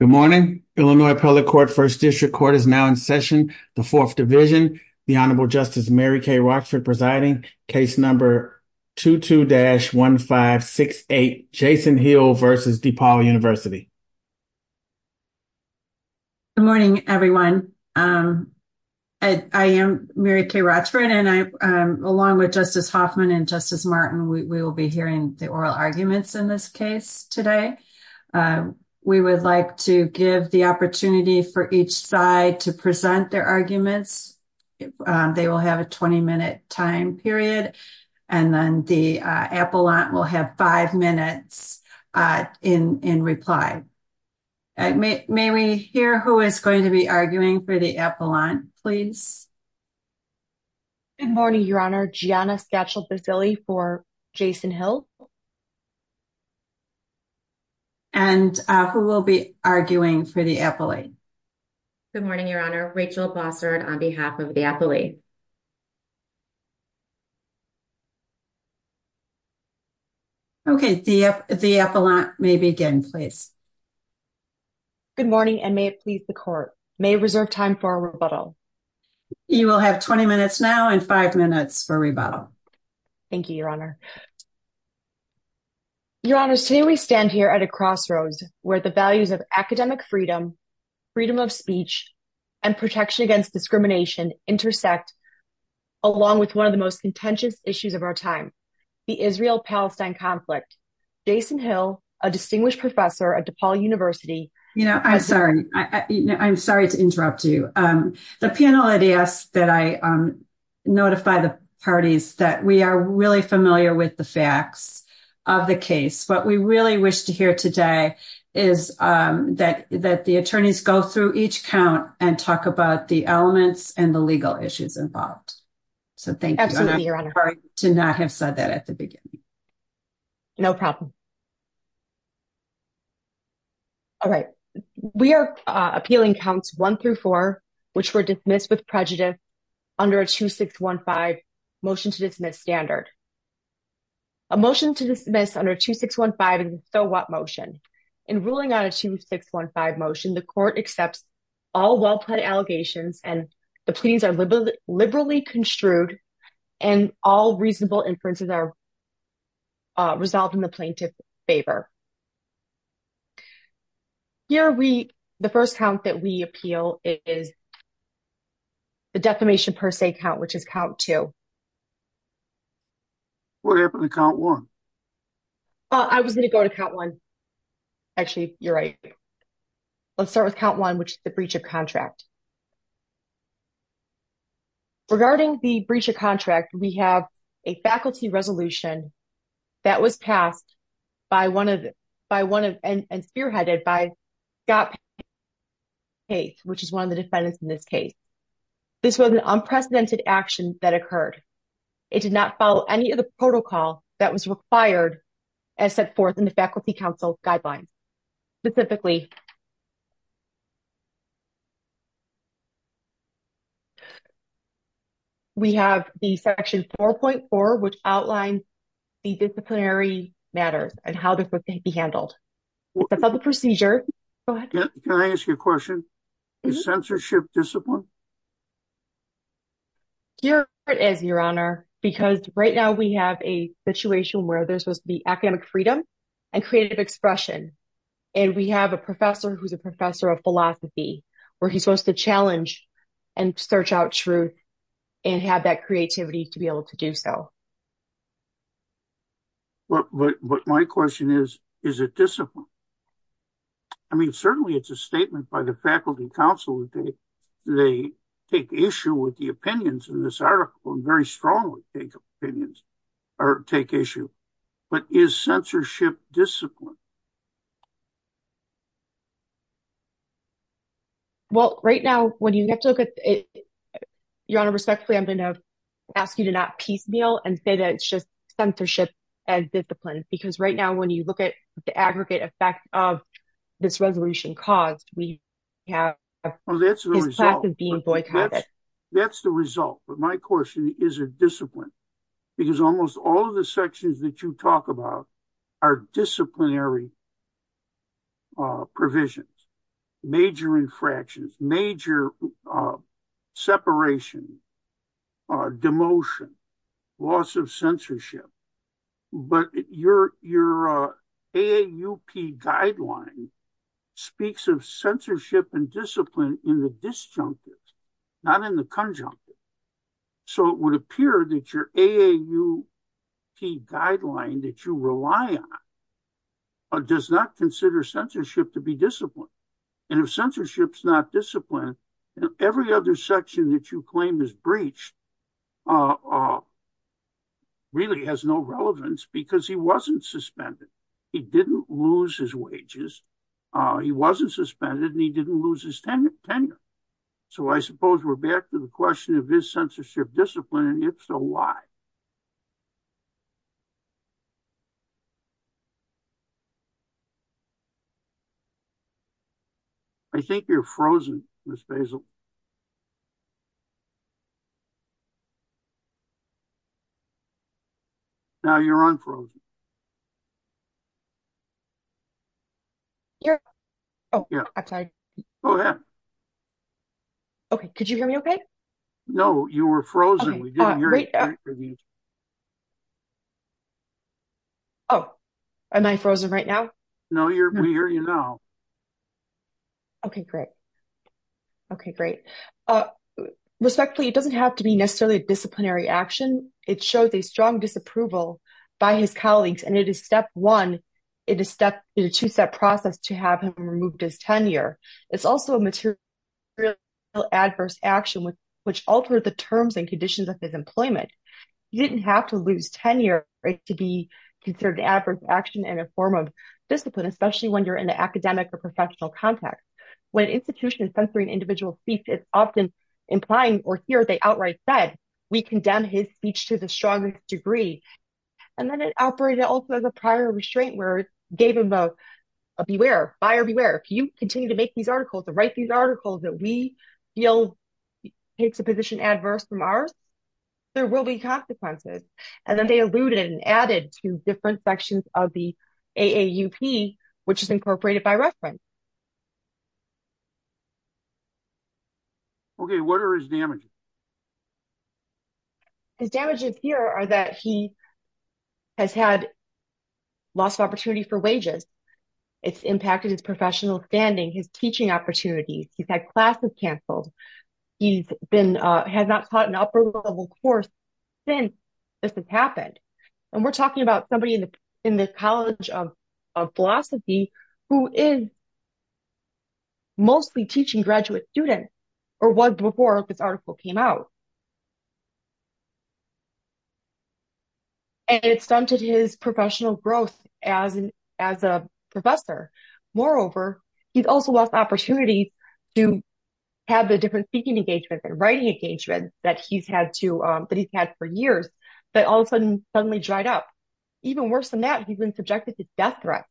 Good morning, Illinois public court 1st district court is now in session. The 4th division, the honorable justice Mary Kay Rockford presiding case number. 22 dash 1, 5, 6, 8, Jason Hill versus DePaul University. Good morning everyone. I am Mary Kay Rockford and I'm along with justice Hoffman and justice Martin. We will be hearing the oral arguments in this case today. We would like to give the opportunity for each side to present their arguments. They will have a 20 minute time period and then the apple lot will have 5 minutes in reply. May we hear who is going to be arguing for the apple on please. Good morning, your honor Giana schedule facility for Jason Hill. And who will be arguing for the. Good morning, your honor Rachel sponsored on behalf of the. Okay, the, the, maybe again, please. Good morning and may it please the court may reserve time for a rebuttal. You will have 20 minutes now and 5 minutes for rebuttal. Thank you, your honor, your honors. Today we stand here at a crossroads where the values of academic freedom. Freedom of speech and protection against discrimination intersect. Along with 1 of the most contentious issues of our time. The Israel Palestine conflict, Jason Hill, a distinguished professor at DePaul University. You know, I'm sorry. I'm sorry to interrupt you. The panel ideas that I. Notify the parties that we are really familiar with the facts of the case, but we really wish to hear today is that that the attorneys go through each count and talk about the elements and the legal issues involved. So, thank you to not have said that at the beginning. No problem. All right, we are appealing counts 1 through 4, which were dismissed with prejudice. Under a 2, 6, 1, 5 motion to dismiss standard. A motion to dismiss under 2, 6, 1, 5 and so what motion in ruling on a 2, 6, 1, 5 motion, the court accepts. All well, put allegations and the please are liberal, liberally construed and all reasonable inferences are. Resolved in the plaintiff's favor. Here we, the 1st count that we appeal is. The decimation per se count, which is count to. What happened to count 1? Well, I was going to go to count 1. Actually, you're right. Let's start with count 1, which is the breach of contract. Regarding the breach of contract, we have a faculty resolution. That was passed by 1 of by 1 and spearheaded by. Hey, which is 1 of the defendants in this case. This was an unprecedented action that occurred. It did not follow any of the protocol that was required. As set forth in the faculty council guidelines. Specifically, we have the section 4.4, which outlines. The disciplinary matters and how to be handled. The public procedure, can I ask you a question? Is censorship discipline your honor? Because right now we have a situation where there's supposed to be academic freedom. And creative expression, and we have a professor who's a professor of philosophy, where he's supposed to challenge. And search out truth and have that creativity to be able to do so. But, but, but my question is, is it discipline? I mean, certainly it's a statement by the faculty council. They take issue with the opinions in this article and very strongly take opinions. Or take issue, but is censorship discipline. Well, right now, when you look at it, your honor respectfully, I'm going to ask you to not piecemeal and say that it's just censorship as disciplines because right now, when you look at the aggregate effect of this resolution cause, we have classes being boycotted. That's the result, but my question is a discipline. Because almost all of the sections that you talk about are disciplinary provisions, major infractions, major separation, demotion, loss of censorship, but your AAUP guideline speaks of censorship and discipline in the disjunctives, not in the conjunctives. So, it would appear that your AAUP guideline that you rely on does not consider censorship to be disciplined and if censorship's not disciplined, every other section that you claim is breached really has no relevance because he wasn't suspended. He didn't lose his wages. He wasn't suspended and he didn't lose his tenure. So, I suppose we're back to the question of this censorship discipline and if so, why? I think you're frozen, Ms. Basil. Now, you're unfrozen. Okay, could you hear me? Okay. No, you were frozen. Oh, am I frozen right now? No, you're here now. Okay, great. Okay, great. Respectfully, it doesn't have to be necessarily a disciplinary action. It shows a strong disapproval by his colleagues and it is step one. It is a two-step process to have him removed his tenure. It's also a material adverse action, which altered the terms and conditions of his employment. You didn't have to lose tenure to be considered adverse action in a form of discipline, especially when you're in the academic or professional context. When an institution is censoring individual speech, it's often implying or here they outright said, we condemn his speech to the strongest degree. And then it operated also as a prior restraint where it gave him both a beware, fire beware. If you continue to make these articles or write these articles that we feel takes a position adverse from ours, there will be consequences. And then they alluded and added to different sections of the AAUP, which is incorporated by reference. Okay, what are his damages? The damages here are that he has had lost opportunity for wages. It's impacted his professional standing, his teaching opportunities. He's had classes canceled. He's been has not taught an upper level course. Then this has happened and we're talking about somebody in the in the college of. Philosophy who is. Mostly teaching graduate students or was before this article came out. And it's done to his professional growth as a professor. Moreover, he's also lost opportunities to. Have the different speaking engagements and writing engagements that he's had to that he's had for years, but all of a sudden, suddenly dried up. Even worse than that, he's been subjected to death threats.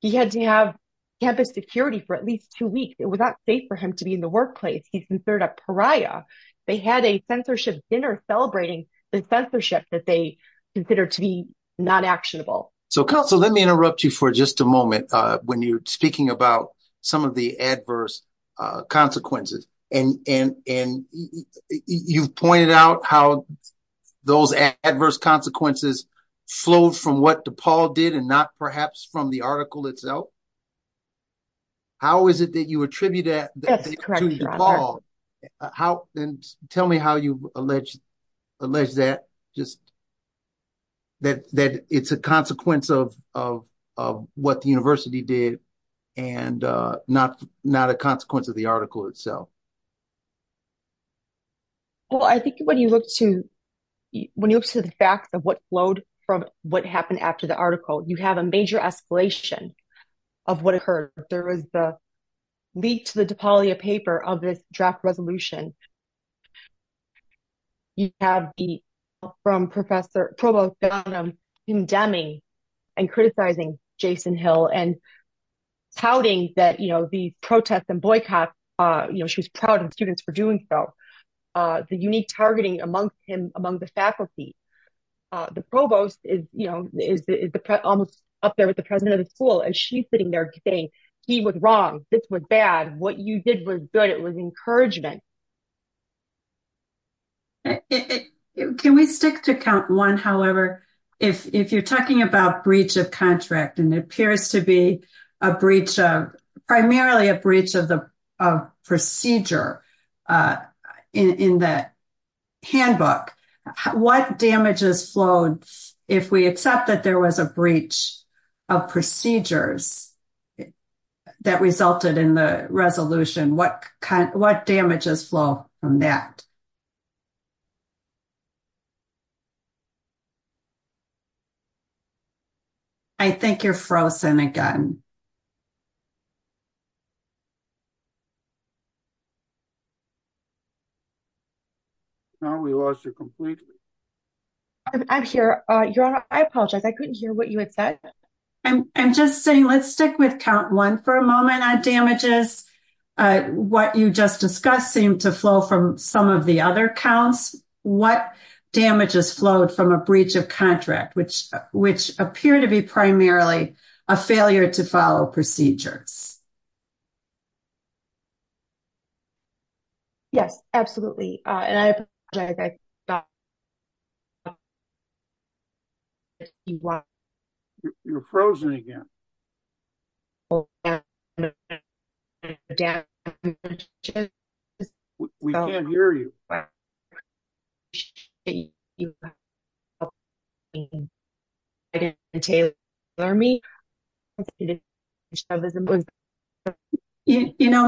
He had to have campus security for at least 2 weeks. It was not safe for him to be in the workplace. He's considered a pariah. They had a censorship dinner celebrating the censorship that they consider to be not actionable. So, let me interrupt you for just a moment when you're speaking about some of the adverse consequences and you pointed out how. Those adverse consequences flow from what the Paul did and not perhaps from the article itself. How is it that you attribute that? Paul, how tell me how you alleged that just. That that it's a consequence of of of what the university did and not not a consequence of the article itself. Well, I think when you look to when you look to the facts of what flowed from what happened after the article, you have a major escalation of what occurred. There was a. Leak to the paper of the draft resolution. You have the from Professor Provost in Demi and criticizing Jason Hill and pouting that, you know, the protests and boycotts, you know, she was proud of students for doing so. The unique targeting amongst him among the faculty. The provost is, you know, is almost up there with the president of the school and she's sitting there today. He was wrong. This was bad. What you did was good. It was encouragement. Can we stick to count one? However, if you're talking about breach of contract, and it appears to be a breach of primarily a breach of the procedure. In the handbook, what damages flowed if we accept that there was a breach of procedures that resulted in the resolution. What kind of what damages flow from that? I think you're frozen again. No, we lost it completely. I'm sure I apologize. I couldn't hear what you had said. And just saying, let's stick with count 1 for a moment on damages. Uh, what you just discussing to flow from some of the other counts, what damages flow from a breach of contract, which, which appear to be primarily a failure to follow procedure. Yes, absolutely. You're frozen again. We can't hear you. You know,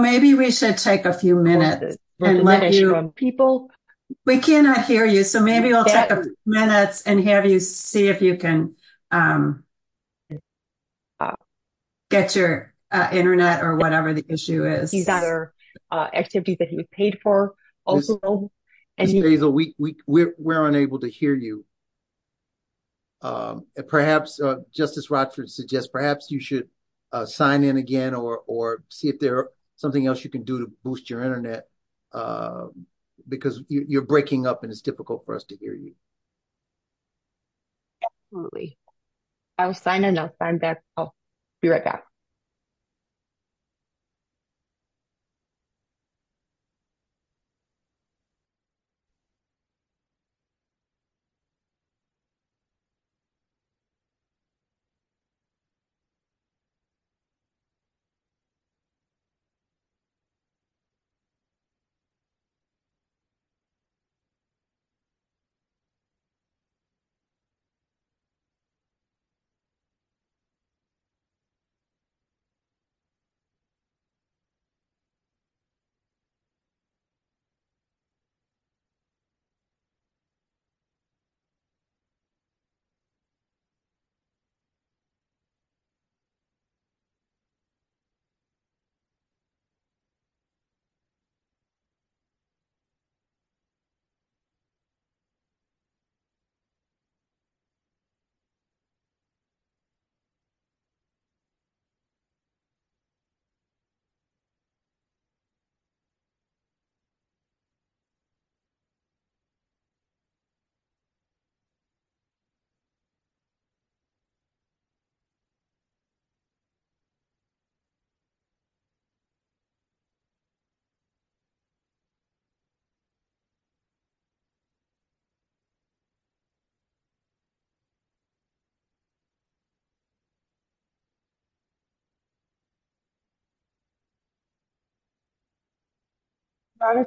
maybe we should take a few minutes and let you people we cannot hear you. So maybe I'll get the minutes and have you see if you can. Get your Internet, or whatever the issue is, these other activities that he was paid for. And we weren't able to hear you. Perhaps just as Roger suggests, perhaps you should. Sign in again, or or see if there's something else you can do to boost your Internet. Because you're breaking up and it's difficult for us to hear you. Absolutely. I'll sign in. I'll sign back. I'll be right back.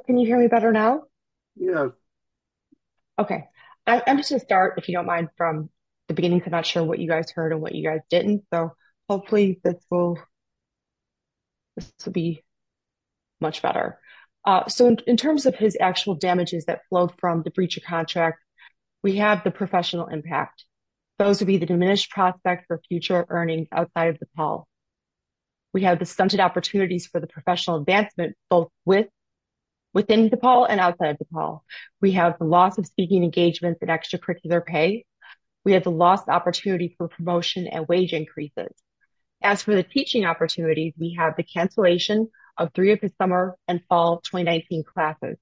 Can you hear me better now? Yeah, okay. I'm just start if you don't mind from. The beginning, I'm not sure what you guys heard and what you guys didn't. So hopefully this will. To be much better. So, in terms of his actual damages that flow from the breach of contract. We have the professional impact. Those would be the diminished prospects for future earnings outside of the Paul. We have the scented opportunities for the professional advancement both with. Within the Paul and outside the Paul, we have the loss of speaking engagements and extracurricular pay. We have the last opportunity for promotion and wage increases. As for the teaching opportunities, we have the cancellation of 3 of the summer and fall 2019 classes.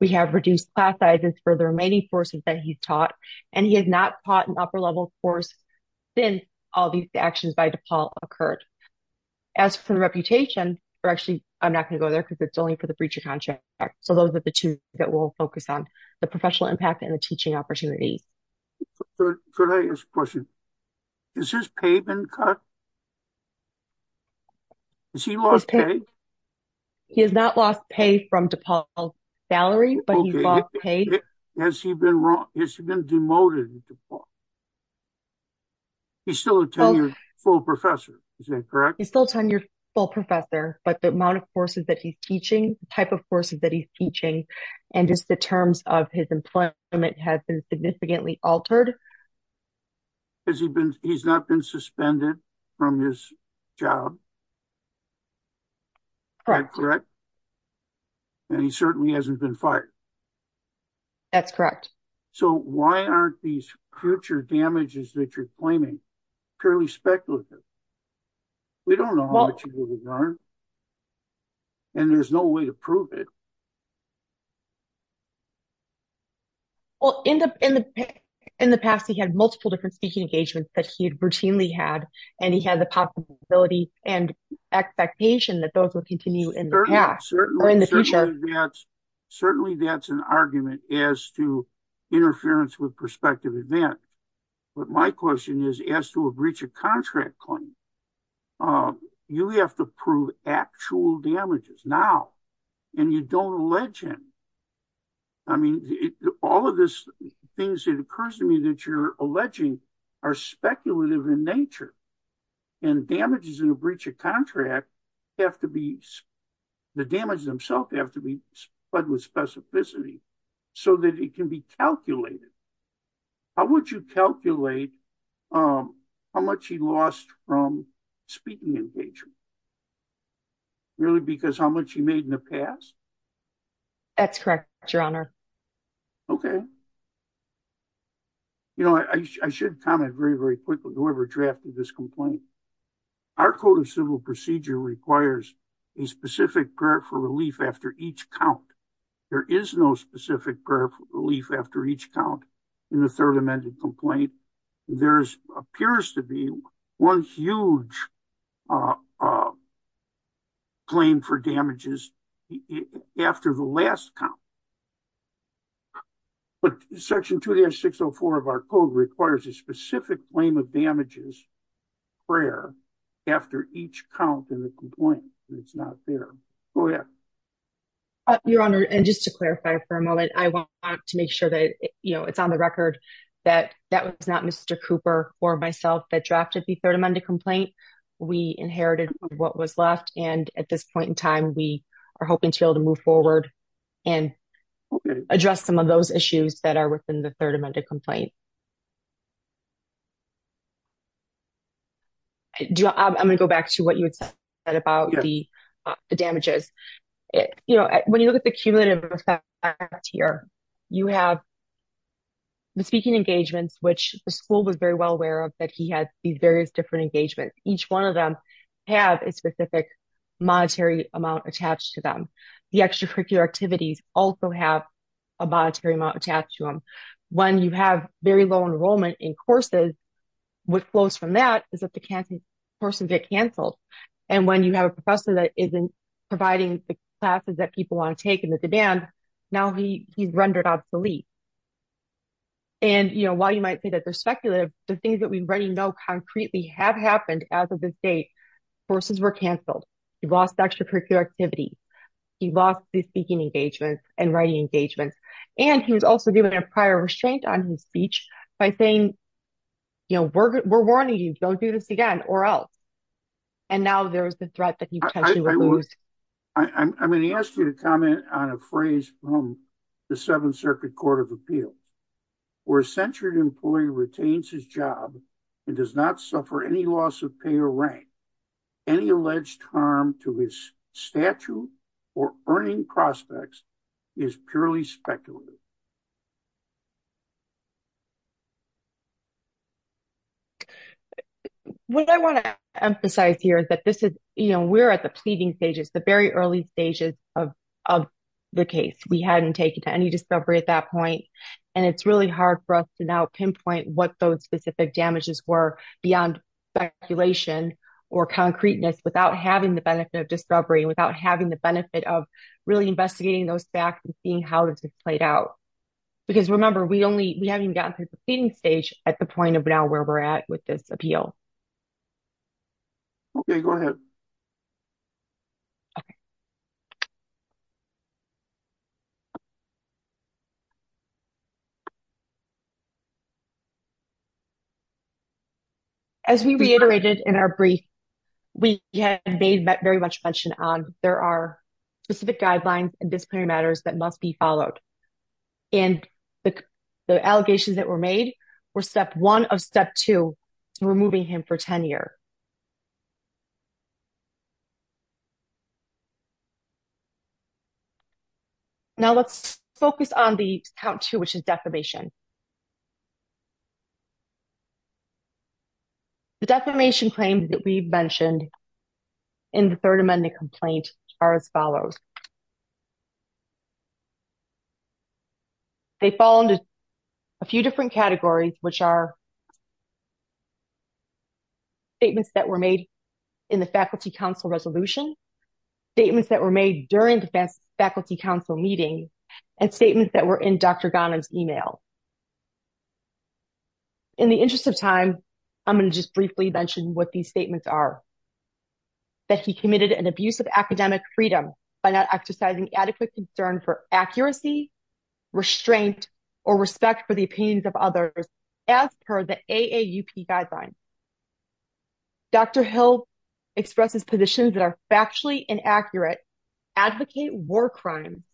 We have reduced class sizes for the remaining courses that he's taught. And he has not taught an upper level course since all these actions by the Paul occurred. As for reputation, or actually, I'm not going to go there because it's only for the breach of contract. So, those are the 2 that will focus on the professional impact and the teaching opportunity. Can I ask a question? Is his pay been cut? Has he lost pay? He has not lost pay from DePaul's salary, but he's lost pay. Has he been demoted at DePaul? He's still a tenured full professor. Is that correct? He's still a tenured full professor, but the amount of courses that he's teaching, the type of courses that he's teaching, and just the terms of his employment has been significantly altered. Has he been, he's not been suspended from his job? Correct. And he certainly hasn't been fired. That's correct. So, why aren't these future damages that you're claiming purely speculative? We don't know. And there's no way to prove it. Well, in the past, we had multiple different speaking engagements that he routinely had, and he had the possibility and expectation that those would continue in the past. Certainly, that's an argument as to interference with prospective events. But my question is, as to a breach of contract claim, you have to prove actual damages now, and you don't allege him. I mean, all of these things that occurs to me that you're alleging are speculative in nature, and damages in a breach of contract have to be, the damages themselves have to be fudged with specificity so that it can be calculated. How would you calculate how much he lost from speaking engagement? Really, because how much he made in the past? That's correct, Your Honor. Okay. You know, I should comment very, very quickly, whoever drafted this complaint. Our Code of Civil Procedure requires a specific period for relief after each count. There is no specific relief after each count in the third amended complaint. There appears to be one huge claim for damages after the last count. But Section 2-604 of our Code requires a specific claim of damages prior after each count in the complaint, and it's not there. Go ahead. Your Honor, and just to clarify for a moment, I want to make sure that it's on the record that that was not Mr. Cooper or myself that drafted the third amended complaint. We inherited what was left, and at this point in time, we are hoping to be able to move forward and address some of those issues that are within the third amended complaint. I'm going to go back to what you said about the damages. You know, when you look at the engagements, which the school was very well aware of that he had these various different engagements, each one of them has a specific monetary amount attached to them. The extracurricular activities also have a monetary amount attached to them. When you have very low enrollment in courses, what flows from that is that the courses get canceled, and when you have a professor that isn't providing the classes that people want to take and the demand, now he's rendered obsolete. And, you know, while you might say that they're secular, the things that we already know concretely have happened as of this date. Courses were canceled. He lost extracurricular activities. He lost the speaking engagements and writing engagements, and he was also given a prior restraint on his speech by saying, you know, we're warning you, don't do this again or else. And now there's the threat that he potentially will lose. I'm going to ask you to comment on a phrase from the Seventh Circuit Court of Appeal. Where a censured employee retains his job and does not suffer any loss of pay or rank, any alleged harm to his statute or earning prospects is purely speculative. What I want to emphasize here is that this is, you know, we're at the pleading stages, the very early stages of the case. We hadn't taken any discovery at that point, and it's really hard for us to now pinpoint what those specific damages were beyond speculation or concreteness without having the benefit of discovery, without having the benefit of really investigating those facts and seeing how this has played out. Because remember, we only, we haven't even gotten to the pleading stage at the point of now where we're at with this appeal. Okay, go ahead. As we reiterated in our brief, we have, as Dave very much mentioned, there are specific guidelines and disciplinary matters that must be followed. And the allegations that were made were step one of step two to removing him for tenure. Now let's focus on the count two, which is defamation. The defamation claims that we've mentioned in the third amendment complaint are as follows. They fall into a few different categories, which are statements that were made in the Faculty Council resolution, statements that were made during the Faculty Council meeting, and statements that were in Dr. Ghanem's email. In the interest of time, I'm going to just briefly mention what these statements are. That he committed an abuse of academic freedom by not exercising adequate concern for accuracy, restraint, or respect for the opinions of others, as per the AAUP guidelines. Dr. Hill expresses positions that are factually inaccurate, advocate war crimes,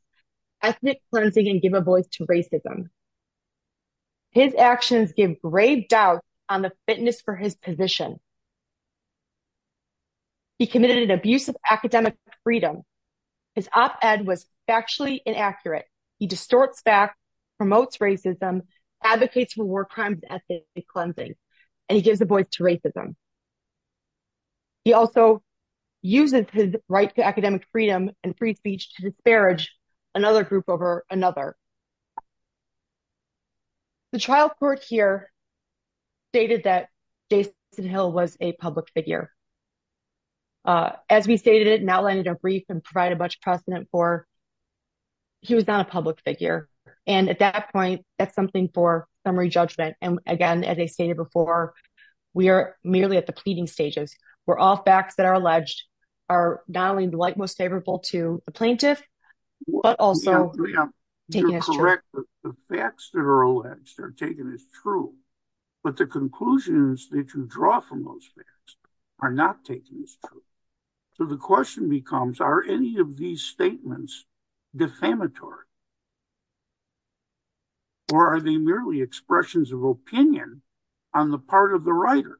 ethnic cleansing, and give a voice to racism. His actions give grave doubts on the fitness for his position. He committed an abuse of academic freedom. His op-ed was factually inaccurate. He distorts facts, promotes racism, advocates war crimes, ethnic cleansing, and he gives a voice to racism. He also uses his right to academic freedom and free speech to disparage another group over another. The trial court here stated that Jason Hill was a public figure. As we stated, and outlined in a brief and provided much precedent for, he was not a public figure. And at that point, that's something for summary judgment. And again, as I stated before, we are merely at the pleading stages, where all facts that are alleged are not only the like most favorable to a plaintiff, but also... You're correct. The facts that are alleged are taken as true. But the conclusions that you draw from those facts are not taken as true. So the question becomes, are any of these statements defamatory? Or are they merely expressions of opinion on the part of the writer?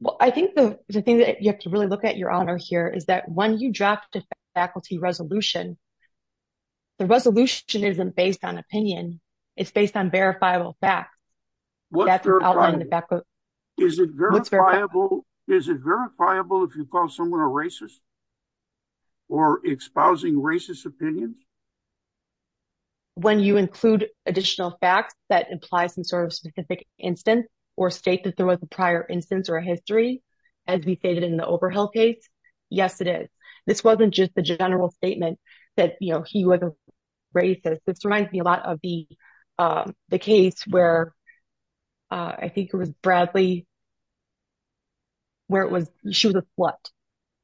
Well, I think the thing that you have to really look at your honor here is that when you draft a faculty resolution, the resolution isn't based on opinion. It's based on verifiable facts. What's verifiable? Is it verifiable if you call someone a racist or exposing racist opinion? When you include additional facts that imply some sort of specific instance, or state that there was a prior instance or a history, as we stated in the Overhill case, yes, it is. This wasn't just a general statement that he was a racist. This reminds me a lot of the case where, I think it was Bradley, where she was a slut.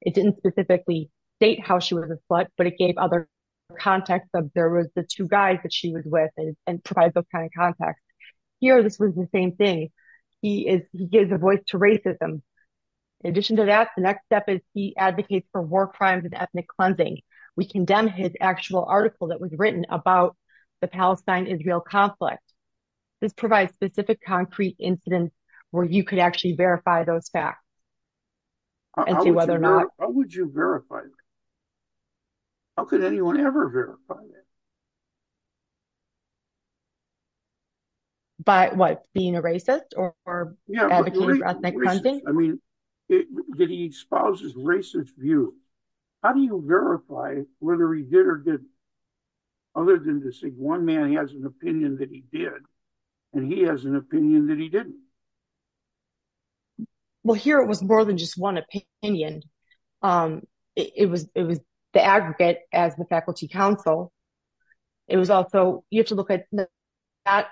It didn't specifically state how she was a slut, but it gave other context of there was the two guys that she was with and provides those kinds of context. Here, this was the same thing. He gives a voice to racism. In addition to that, the next step is he advocates for war crimes and ethnic cleansing. We condemn his actual article that was written about the Palestine-Israel conflict. This provides specific concrete incidents where you could actually verify those facts and see whether or not- By what? Being a racist or advocating for ethnic cleansing? I mean, that he exposes racist view. How do you verify whether he did or didn't? Other than to say one man has an opinion that he did, and he has an opinion that he didn't. Well, here it was more than just one opinion. It was the aggregate as the faculty council. It was also, you have to look at that.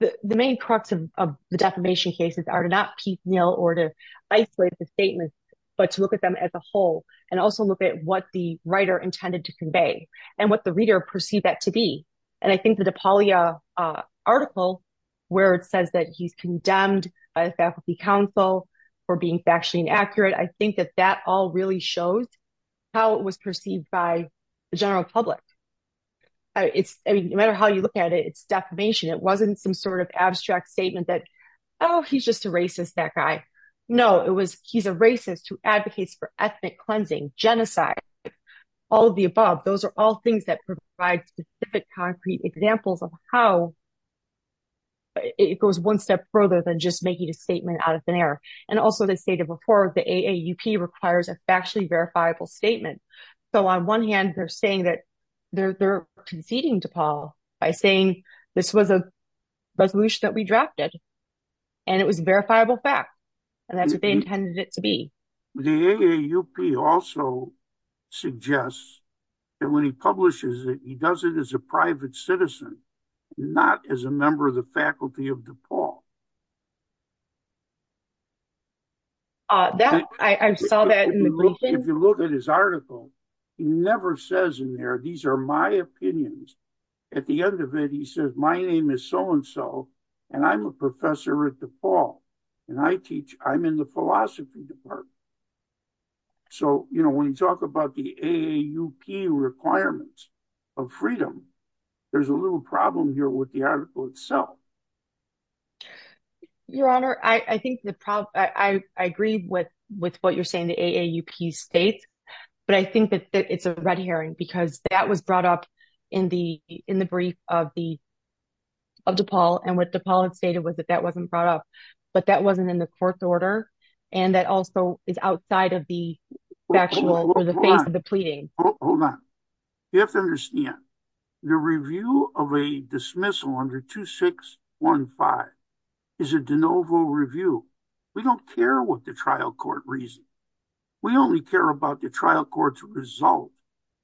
The main crux of the defamation cases are to not piecemeal or to isolate the statements, but to look at them as a whole and also look at what the writer intended to convey and what the reader perceived that to be. I think the Napoleon article where it says that he's condemned a faculty council for being factually inaccurate, I think that that all shows how it was perceived by the general public. No matter how you look at it, it's defamation. It wasn't some sort of abstract statement that, oh, he's just a racist, that guy. No, it was he's a racist who advocates for ethnic cleansing, genocide, all of the above. Those are all things that provide specific concrete examples of how it goes one step further than just making a requires a factually verifiable statement. On one hand, they're saying that they're conceding DePaul by saying this was a resolution that we drafted, and it was verifiable fact, and that's what they intended it to be. The AAUP also suggests that when he publishes it, he does it as a private citizen, not as a member of the faculty of DePaul. If you look at his article, he never says in there, these are my opinions. At the end of it, he says, my name is so-and-so, and I'm a professor at DePaul, and I teach, I'm in the philosophy department. So when you talk about the AAUP requirements of freedom, there's a little problem here with the article itself. Your Honor, I agree with what you're saying, the AAUP states, but I think that it's a red herring, because that was brought up in the brief of DePaul, and what DePaul has stated was that that wasn't brought up, but that wasn't in the court's order, and that also is outside of the factual, of the pleading. Hold on, you have to understand, the review of a dismissal under 2615 is a de novo review. We don't care what the trial court reasons. We only care about the trial court's result,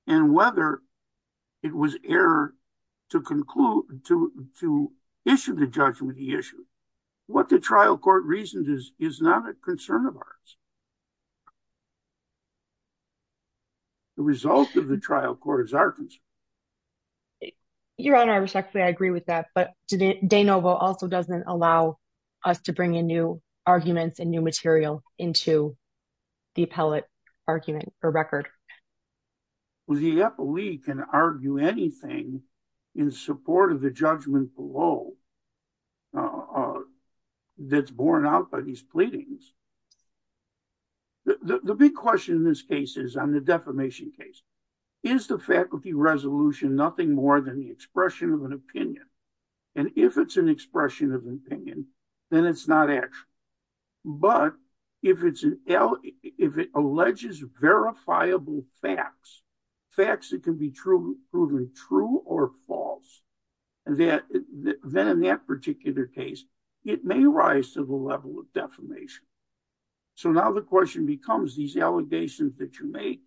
and whether it was error to conclude, to issue the judgment, the issue. What the trial court reasons is not a concern of ours. The result of the trial court is our concern. Your Honor, respectfully, I agree with that, but de novo also doesn't allow us to bring in new arguments and new material into the appellate argument or record. Well, the appellee can argue anything in support of the judgment below that's borne out by these pleadings. The big question in this case is on the defamation case, is the faculty resolution nothing more than the expression of an opinion, and if it's an expression of an opinion, then it's not actual, but if it's an, if it alleges verifiable facts, facts that can be proven true or false, then in that particular case, it may rise to the level of defamation. So, now the question becomes, these allegations that you make,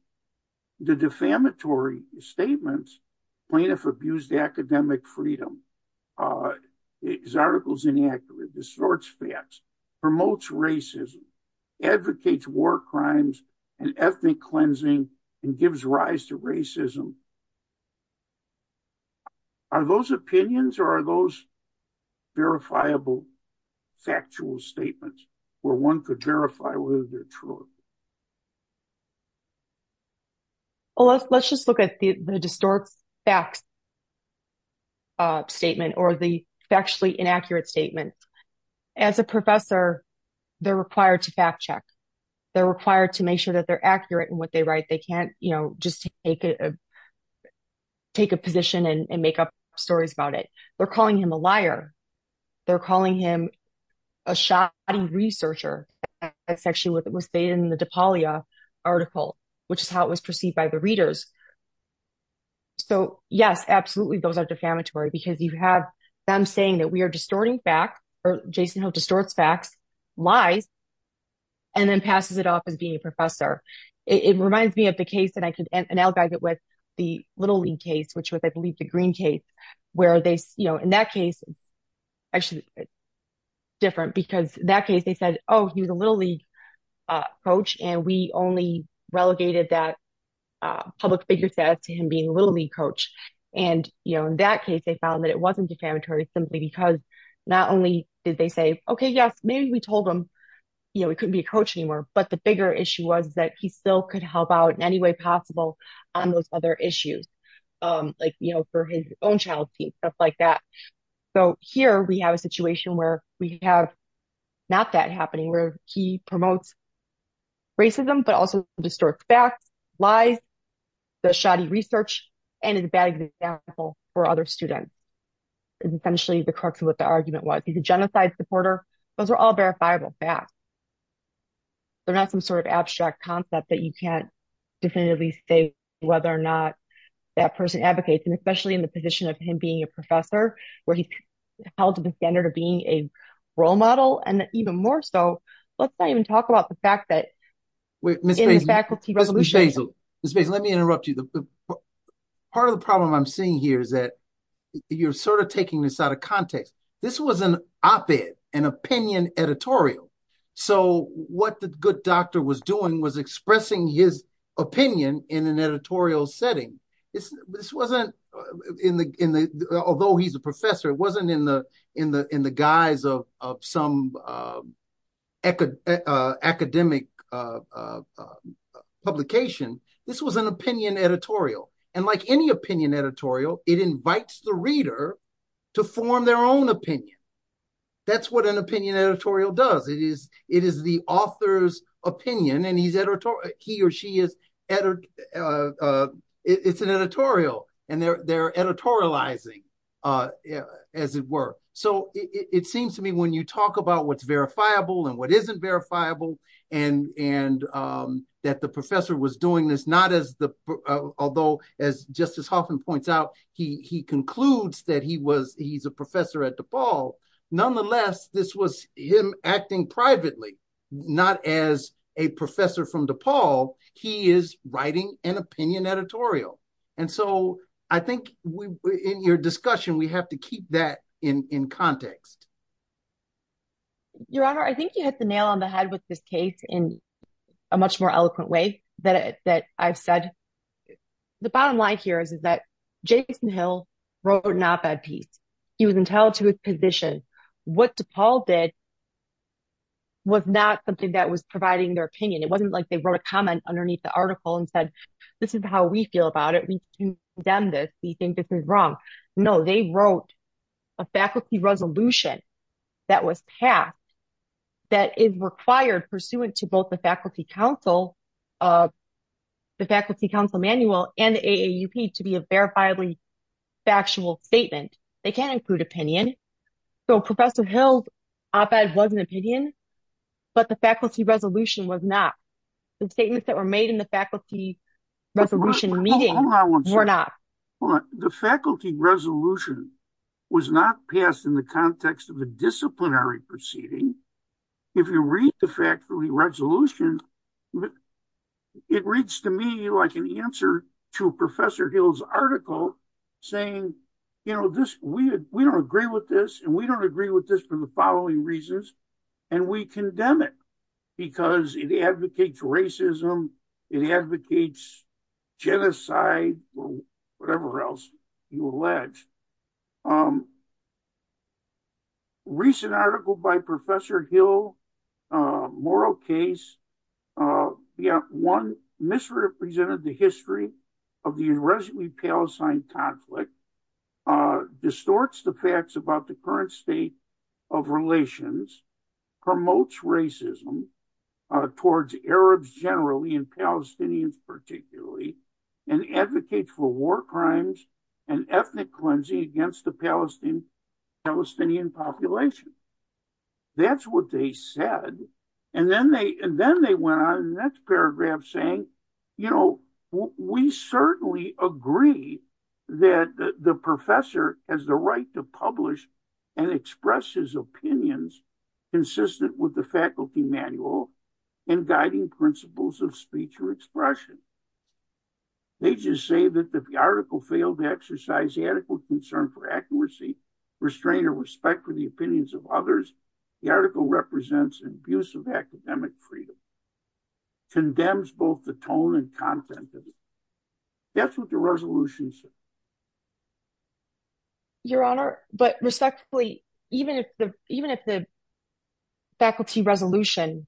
the defamatory statements, plaintiff abused academic freedom, his article's inaccurate, distorts facts, promotes racism, advocates war crimes and ethnic cleansing, and gives rise to racism. Are those opinions or are those verifiable factual statements where one could verify whether they're true? Well, let's just look at the distort facts statement or the factually inaccurate statement. As a professor, they're required to fact check. They're required to make sure that they're accurate in what they write. They can't, you know, just take a position and make up stories about it. They're calling him a liar. They're calling him a shoddy researcher. That's actually what was stated in the DePaulia article, which is how it was perceived by the readers. So, yes, absolutely, those are defamatory because you have them saying that we are distorting facts, or Jason has distorted facts, lies, and then passes it off as being a professor. It reminds me of the case, and I can analogize it with the Little League case, which was, I believe, the Green case, where they, you know, in that case, actually, it's different because in that case, they said, oh, he's a Little League coach, and we only relegated that public figure status to him being a Little League coach, and, you know, in that case, they found that it wasn't defamatory simply because not only did they say, okay, yes, maybe we told him, you know, he couldn't be a coach anymore, but the bigger issue was that he still could help out in any way possible on those other issues, like, you know, for his own channel team, stuff like that. So, here, we have a situation where we have not that happening, where he promotes racism, but also distorts facts, lies, does shoddy research, and is bad example for other students. It's essentially the crux of what the argument was. He's a genocide supporter. Those are all verifiable facts. They're not some sort of abstract concept that you can't definitively say whether or not that person advocates, and especially in the position of him being a professor where he's held to the standard of being a role model, and even more so, let's not even talk about the fact that in the faculty resolution. Mr. Hazel, let me interrupt you. Part of the problem I'm seeing here is that you're sort of taking this out of context. This was an op-ed, an opinion editorial. So, what the good doctor was doing was expressing his opinion in an editorial setting. This wasn't in the, although he's a professor, it wasn't in the guise of some academic publication. This was an opinion editorial, and like any opinion editorial, it invites the reader to form their own opinion. That's what an opinion editorial does. It is the author's opinion, and he or she is, it's an editorial, and they're editorializing as it were. So, it seems to me when you talk about what's verifiable and what isn't verifiable, and that the professor was doing this, not as the, although as Justice Hoffman points out, he concludes that he was, he's a professor at DePaul. Nonetheless, this was him acting privately, not as a professor from DePaul. He is writing an opinion editorial, and so I think in your discussion, we have to keep that in context. Your Honor, I think you hit the nail on the head with this case in a much more eloquent way that I've said. The bottom line here is that Jason Hill wrote an op-ed piece. He was entitled to his position. What DePaul did was not something that was providing their opinion. It wasn't like they wrote a comment underneath the article and said, this is how we feel about it. We condemn this. We think this is wrong. No, they wrote a faculty resolution that was passed that is required pursuant to both the faculty council manual and the AAUP to be a verifiably factual statement. They can't include opinion. So, Professor Hill's op-ed was an opinion, but the faculty resolution was not. The statements that were made in the faculty resolution meeting were not. Hold on one second. Hold on. The faculty resolution was not passed in the context of a disciplinary proceeding. If you read the faculty resolution, it reads to me like an answer to Professor Hill's article saying, we don't agree with this, and we don't agree with this for the following reasons, and we condemn it because it advocates racism, it advocates genocide, or whatever else you allege. Recent article by Professor Hill, moral case, one misrepresented the history of the unresolved Palestine conflict, distorts the facts about the current state of relations, promotes racism towards Arabs generally and Palestinians particularly, and advocates for war crimes and ethnic cleansing against the Palestinian population. That's what they said, and then they went on to the next paragraph saying, you know, we certainly agree that the professor has the right to publish and express his opinions consistent with the faculty manual in guiding principles of speech or expression. They just say that if the article failed to exercise adequate concern for accuracy, restraint, or respect for the opinions of others, the article represents an abuse of academic freedom, condemns both the tone and content of it. That's what the resolution says. Your honor, but respectfully, even if the faculty resolution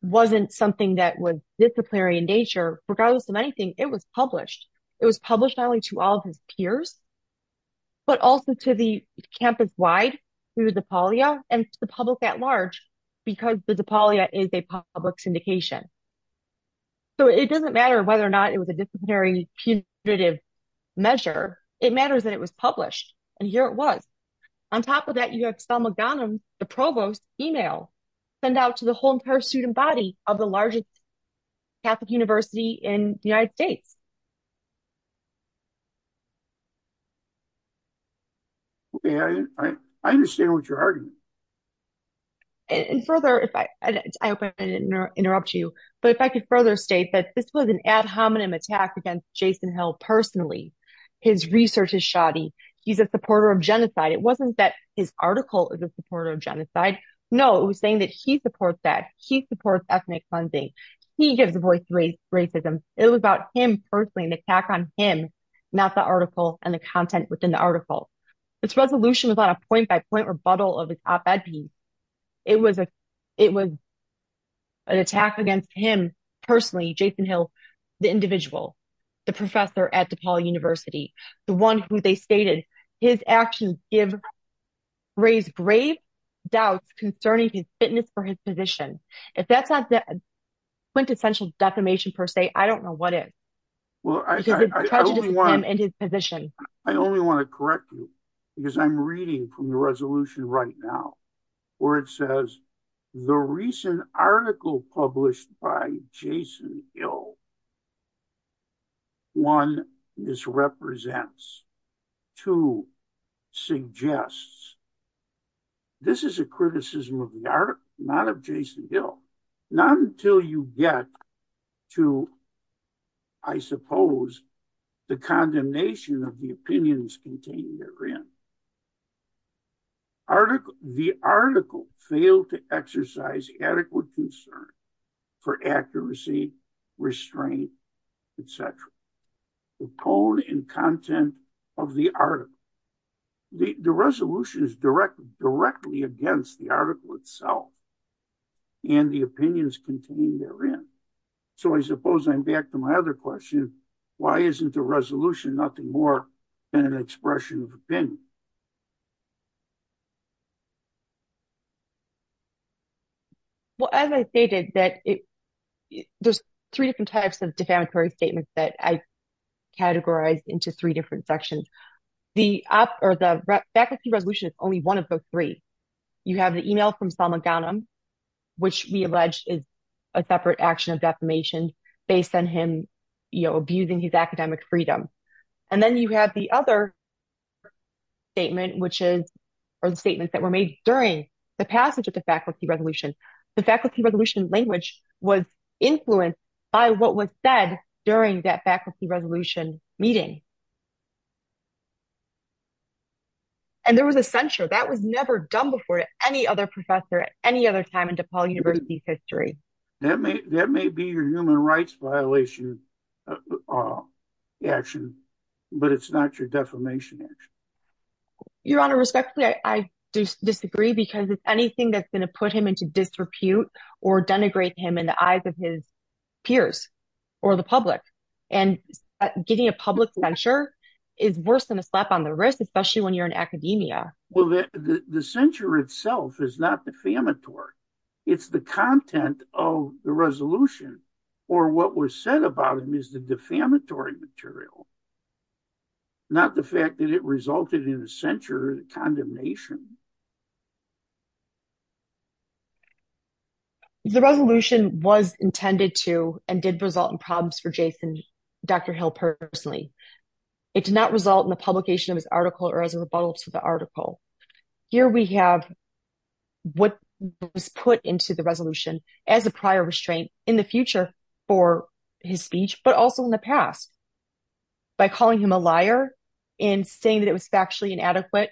wasn't something that was disciplinary in nature, regardless of anything, it was published. It was published not only to all peers, but also to the campus-wide through the DePaulia and to the public at large, because the DePaulia is a public syndication. So it doesn't matter whether or not it was a disciplinary punitive measure, it matters that it was published, and here it was. On top of that, you have Thelma Gunham, the provost, email, send out to the whole entire student body of the largest Catholic in the United States. Okay, I understand what you're arguing. And further, I hope I didn't interrupt you, but if I could further state that this was an ad hominem attack against Jason Hill personally. His research is shoddy. He's a supporter of genocide. It wasn't that his article is a supporter of genocide. No, it was saying that he supports ethnic cleansing. He gives a voice to racism. It was about him personally, an attack on him, not the article and the content within the article. This resolution was on a point-by-point rebuttal of his op-ed piece. It was an attack against him personally, Jason Hill, the individual, the professor at DePaul University, the one who they stated, his actions raise grave doubts concerning his fitness for his position. If that's not quintessential defamation per se, I don't know what is. I only want to correct you because I'm reading from the resolution right now where it says, the recent article published by Jason Hill, one, misrepresents, two, suggests this is a criticism of the article, not of Jason Hill, not until you get to, I suppose, the condemnation of the opinions contained therein. The article failed to exercise adequate concern for accuracy, restraint, et cetera. The code and content of the article, the resolution directly against the article itself and the opinions contained therein. I suppose I'm back to my other question. Why isn't the resolution nothing more than an expression of opinion? Well, as I stated, there's three different types of defamatory statements that I categorized into three different sections. The faculty resolution is only one of those three. You have the email from Salma Ghanem, which we allege is a separate action of defamation based on him abusing his academic freedom. Then you have the other statement, which is, are the statements that were made during the passage of the faculty resolution. The faculty resolution meeting. There was a censure. That was never done before to any other professor at any other time in DePaul University's history. That may be your human rights violation action, but it's not your defamation action. Your Honor, respectfully, I disagree because if anything that's going to put him into disrepute or denigrate him in the eyes of his peers or the public and getting a public lecture is worse than a slap on the wrist, especially when you're in academia. Well, the censure itself is not defamatory. It's the content of the resolution or what was said about him is the defamatory material, not the fact that it resulted in a censure or condemnation. The resolution was intended to and did result in problems for Jason, Dr. Hill personally. It did not result in the publication of this article or as a rebuttal to the article. Here we have what was put into the resolution as a prior restraint in the future for his speech, but also in the past by calling him a liar and saying that it was factually inadequate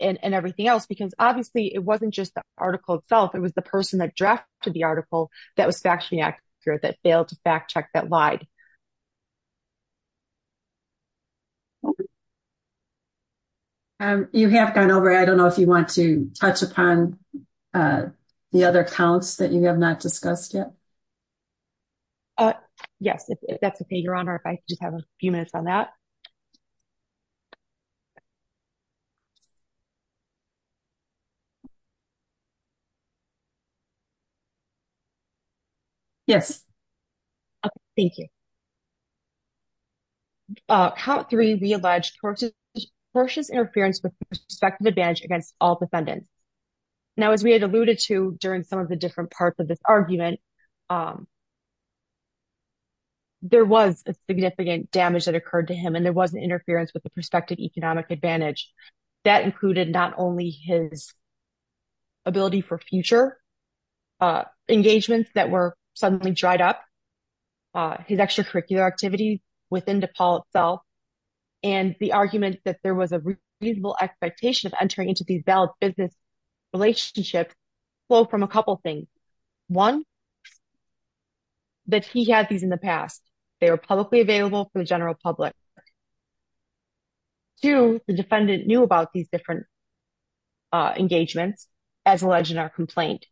and everything else because obviously it wasn't just the article itself. It was the person addressed to the article that was factually inaccurate, that failed to fact check, that lied. You have gone over. I don't know if you want to touch upon the other counts that you have not discussed yet. Yes, if that's okay, Your Honor. If I could just have a few minutes on that. Yes. Okay. Thank you. Count 3b alleged tortious interference with the perspective advantage against all defendants. Now, as we had alluded to during some of the different parts of this argument, there was a significant damage that occurred to him and there wasn't interference with the economic advantage. That included not only his ability for future engagements that were suddenly dried up, his extracurricular activities within DePaul itself, and the argument that there was a reasonable expectation of entering into these valid business relationships flow from a couple of things. One, that he had these in the past. They were publicly available to the general public. Two, the defendant knew about these different engagements as alleged in our complaint.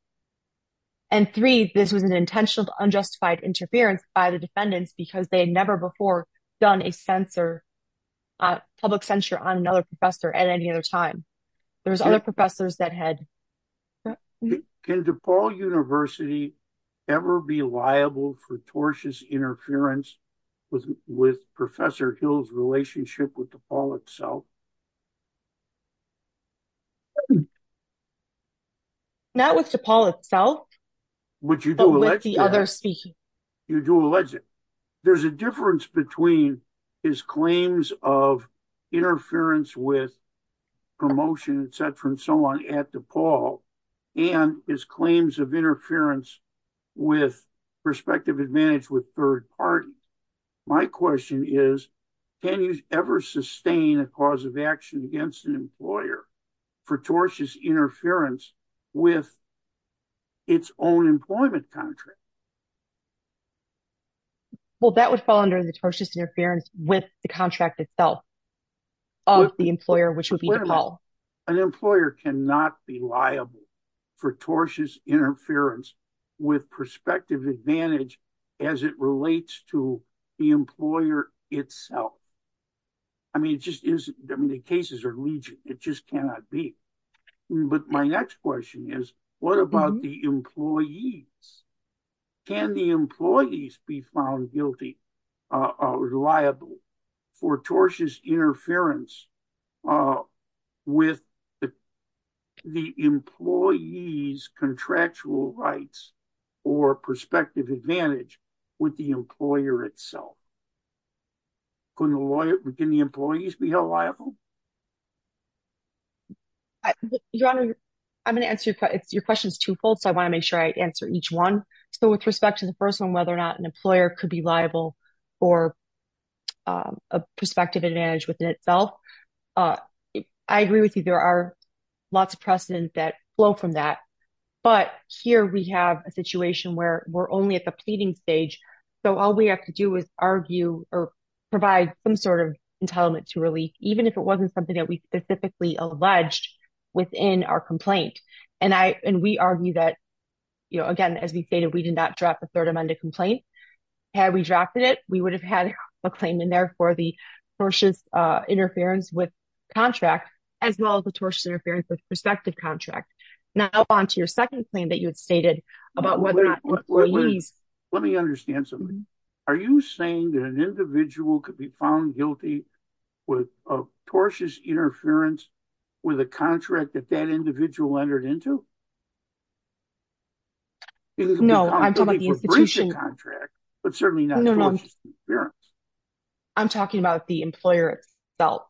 And three, this was an intentional unjustified interference by the defendants because they had never before done a public censure on another professor at any other time. There's other professors that had... Can DePaul University ever be liable for tortious interference with Professor Hill's relationship with DePaul itself? Not with DePaul itself, but with the other speakers. You do allege it. There's a difference between his claims of interference with promotion, et cetera, and so on at DePaul and his claims of interference with prospective advantage with third party. My question is, can you ever sustain a cause of action against an employer for tortious interference with its own employment contract? Well, that would fall under the tortious interference with the contract itself of the employer, which would be DePaul. An employer cannot be liable for tortious interference with prospective advantage as it to the employer itself. I mean, the cases are legion. It just cannot be. But my next question is, what about the employees? Can the employees be found guilty or liable for tortious interference with the employee's contractual rights or prospective advantage with the employer itself? Can the employees be held liable? I'm going to answer your questions twofold, but I want to make sure I answer each one. So with respect to the first one, whether or not an employer could be liable for a prospective advantage within itself, I agree with you. There are lots of precedents that flow from that. But here we have a situation where we're only at the pleading stage. So all we have to do is argue or provide some sort of entitlement to release, even if it wasn't something that we specifically alleged within our complaint. And we argue that, again, as we stated, we did not drop a third-amended complaint. Had we dropped it, we would have had a claim in there for the tortious interference with contract, as well as the tortious interference with prospective contract. Now, on to your second claim that you had stated about whether or not the employees- Let me understand something. Are you saying that an individual could be found guilty with a tortious interference with a contract that that individual entered into? No, I'm talking about the institution. Contract, but certainly not tortious interference. I'm talking about the employer itself.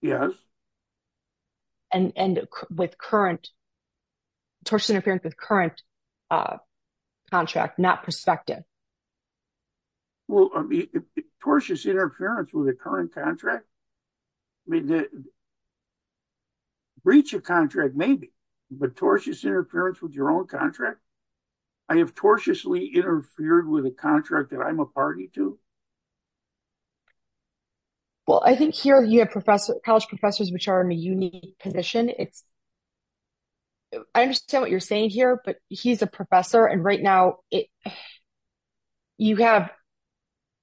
Yes. And with current, tortious interference with current contract, not prospective. Well, tortious interference with a current contract? Breach of contract, maybe, but tortious interference with your own contract? I have tortiously interfered with a contract that I'm a party to? Well, I think here, you have college professors, which are in a unique position. I understand what you're saying here, but he's a professor. And right now,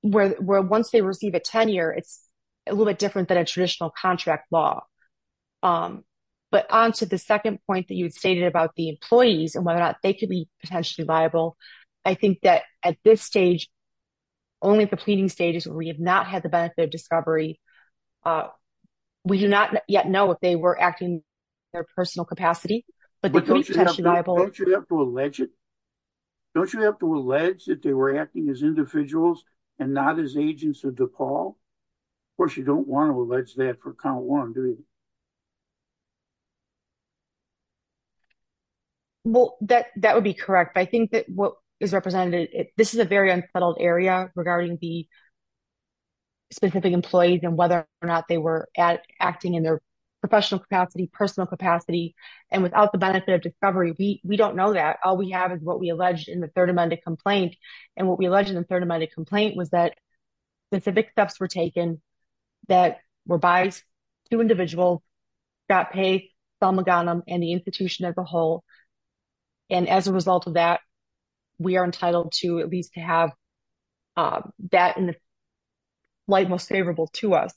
once they receive a tenure, it's a little bit different than a traditional contract law. But on to the second point that you'd stated about the employees and whether or not they could be potentially liable, I think that at this stage, only if a person is a professional we have not had the benefit of discovery. We do not yet know if they were acting in their personal capacity. Don't you have to allege that they were acting as individuals and not as agents of DePaul? Of course, you don't want to allege that for count one, do you? Well, that would be correct. I think that what is represented, this is a very unsettled area regarding the specific employees and whether or not they were acting in their professional capacity, personal capacity. And without the benefit of discovery, we don't know that. All we have is what we alleged in the third amended complaint. And what we alleged in the third amended complaint was that specific steps were taken that were biased to individuals that pay Selma Ghanem and the institution as a whole. And as a result of that, we are entitled to at least to have that in the light most favorable to us.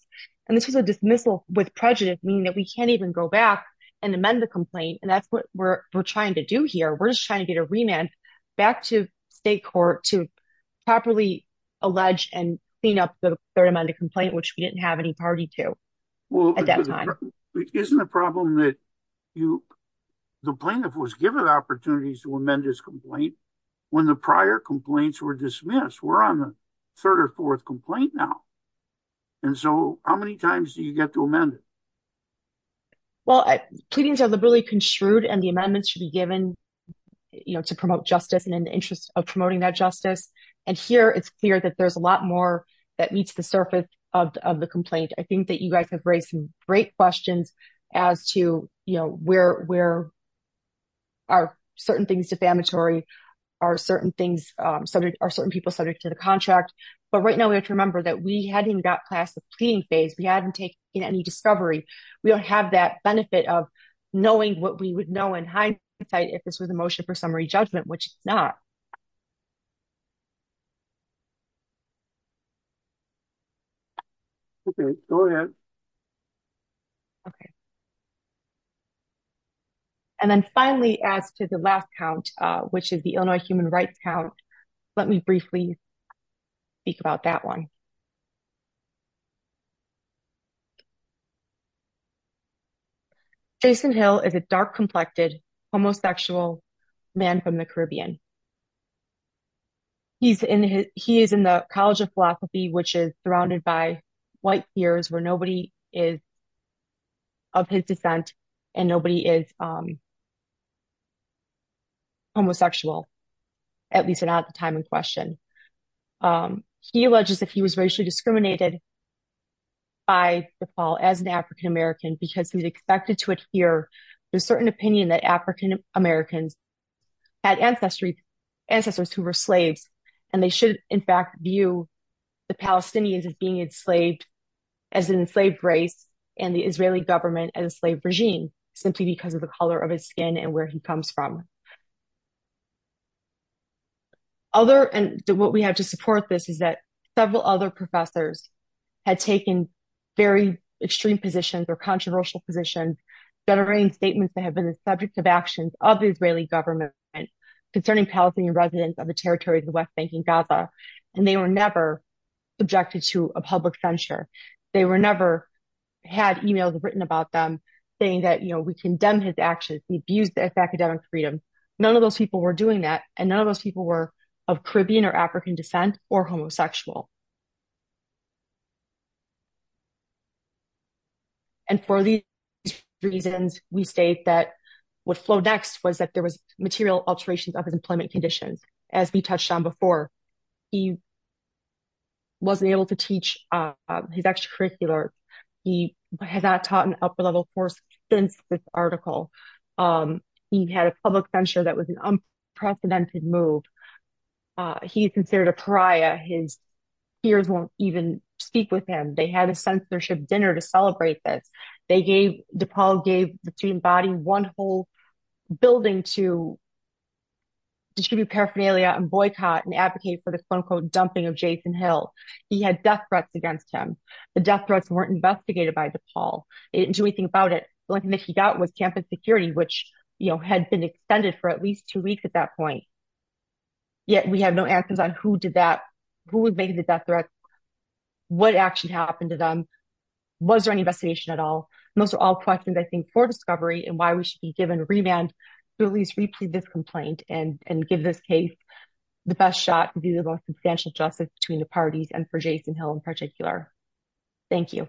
And this is a dismissal with prejudice, meaning that we can't even go back and amend the complaint. And that's what we're trying to do here. We're just trying to get a remand back to state court to properly allege and clean up the third amended complaint, which we didn't have any party to at that time. Isn't the problem that the plaintiff was given opportunities to amend his complaint when the prior complaints were dismissed? We're on the third or fourth complaint now. And so how many times do you get to amend it? Well, proceedings are really construed and the amendments should be given to promote justice and in the interest of promoting that justice. And here it's clear that there's a lot more that meets the surface of the complaint. I think that you guys have raised some great questions as to where are certain things defamatory, are certain people subject to the contract. But right now, we have to remember that we hadn't got past the screening phase. We hadn't taken any discovery. We don't have that benefit of knowing what we would know in hindsight if this was a motion for summary judgment, which it's not. And then finally, as to the last count, which is the Illinois human rights count, let me briefly speak about that one. Jason Hill is a dark-complected homosexual man from the Caribbean. He is in the College of Philosophy, which is surrounded by white spheres where nobody is of his descent and nobody is homosexual, at least not at the time in question. He alleges that he was racially discriminated by DePaul as an African-American because he was expected to adhere to a certain opinion that African-Americans had ancestry to them. Ancestors who were slaves. And they should, in fact, view the Palestinians as being enslaved as an enslaved race and the Israeli government as a slave regime, simply because of the color of his skin and where he comes from. What we have to support this is that several other professors had taken very extreme positions or controversial positions that are in statements that have been the subject of actions of the government concerning Palestinian residents of the territories of the West Bank and Gaza. And they were never subjected to a public censure. They were never had emails written about them saying that, you know, we condemn his actions, we abuse their academic freedom. None of those people were doing that. And none of those people were of Caribbean or African descent or homosexual. And for these reasons, we say that what flowed next was that there was material alterations of his employment conditions, as we touched on before. He wasn't able to teach his extracurricular. He has not taught an upper-level course since this article. He had a public censure that was an unprecedented move. He is considered a pariah. His peers won't even speak with him. They had a censorship dinner to celebrate this. They gave, DePaul gave the student body one whole building to distribute paraphernalia and boycott and advocate for the so-called dumping of Jason Hill. He had death threats against him. The death threats weren't investigated by DePaul. They didn't do anything about it. The only thing he got was campus security, which, you know, had been extended for at least two weeks at that point. Yet we have no answers on who did that, who would make the death threats, what actually happened to them. Was there any investigation at all? Those are all questions, I think, for discovery and why we should be given remand to at least retrieve this complaint and give this case the best shot to do the most substantial justice between the parties and for Jason Hill in particular. Thank you.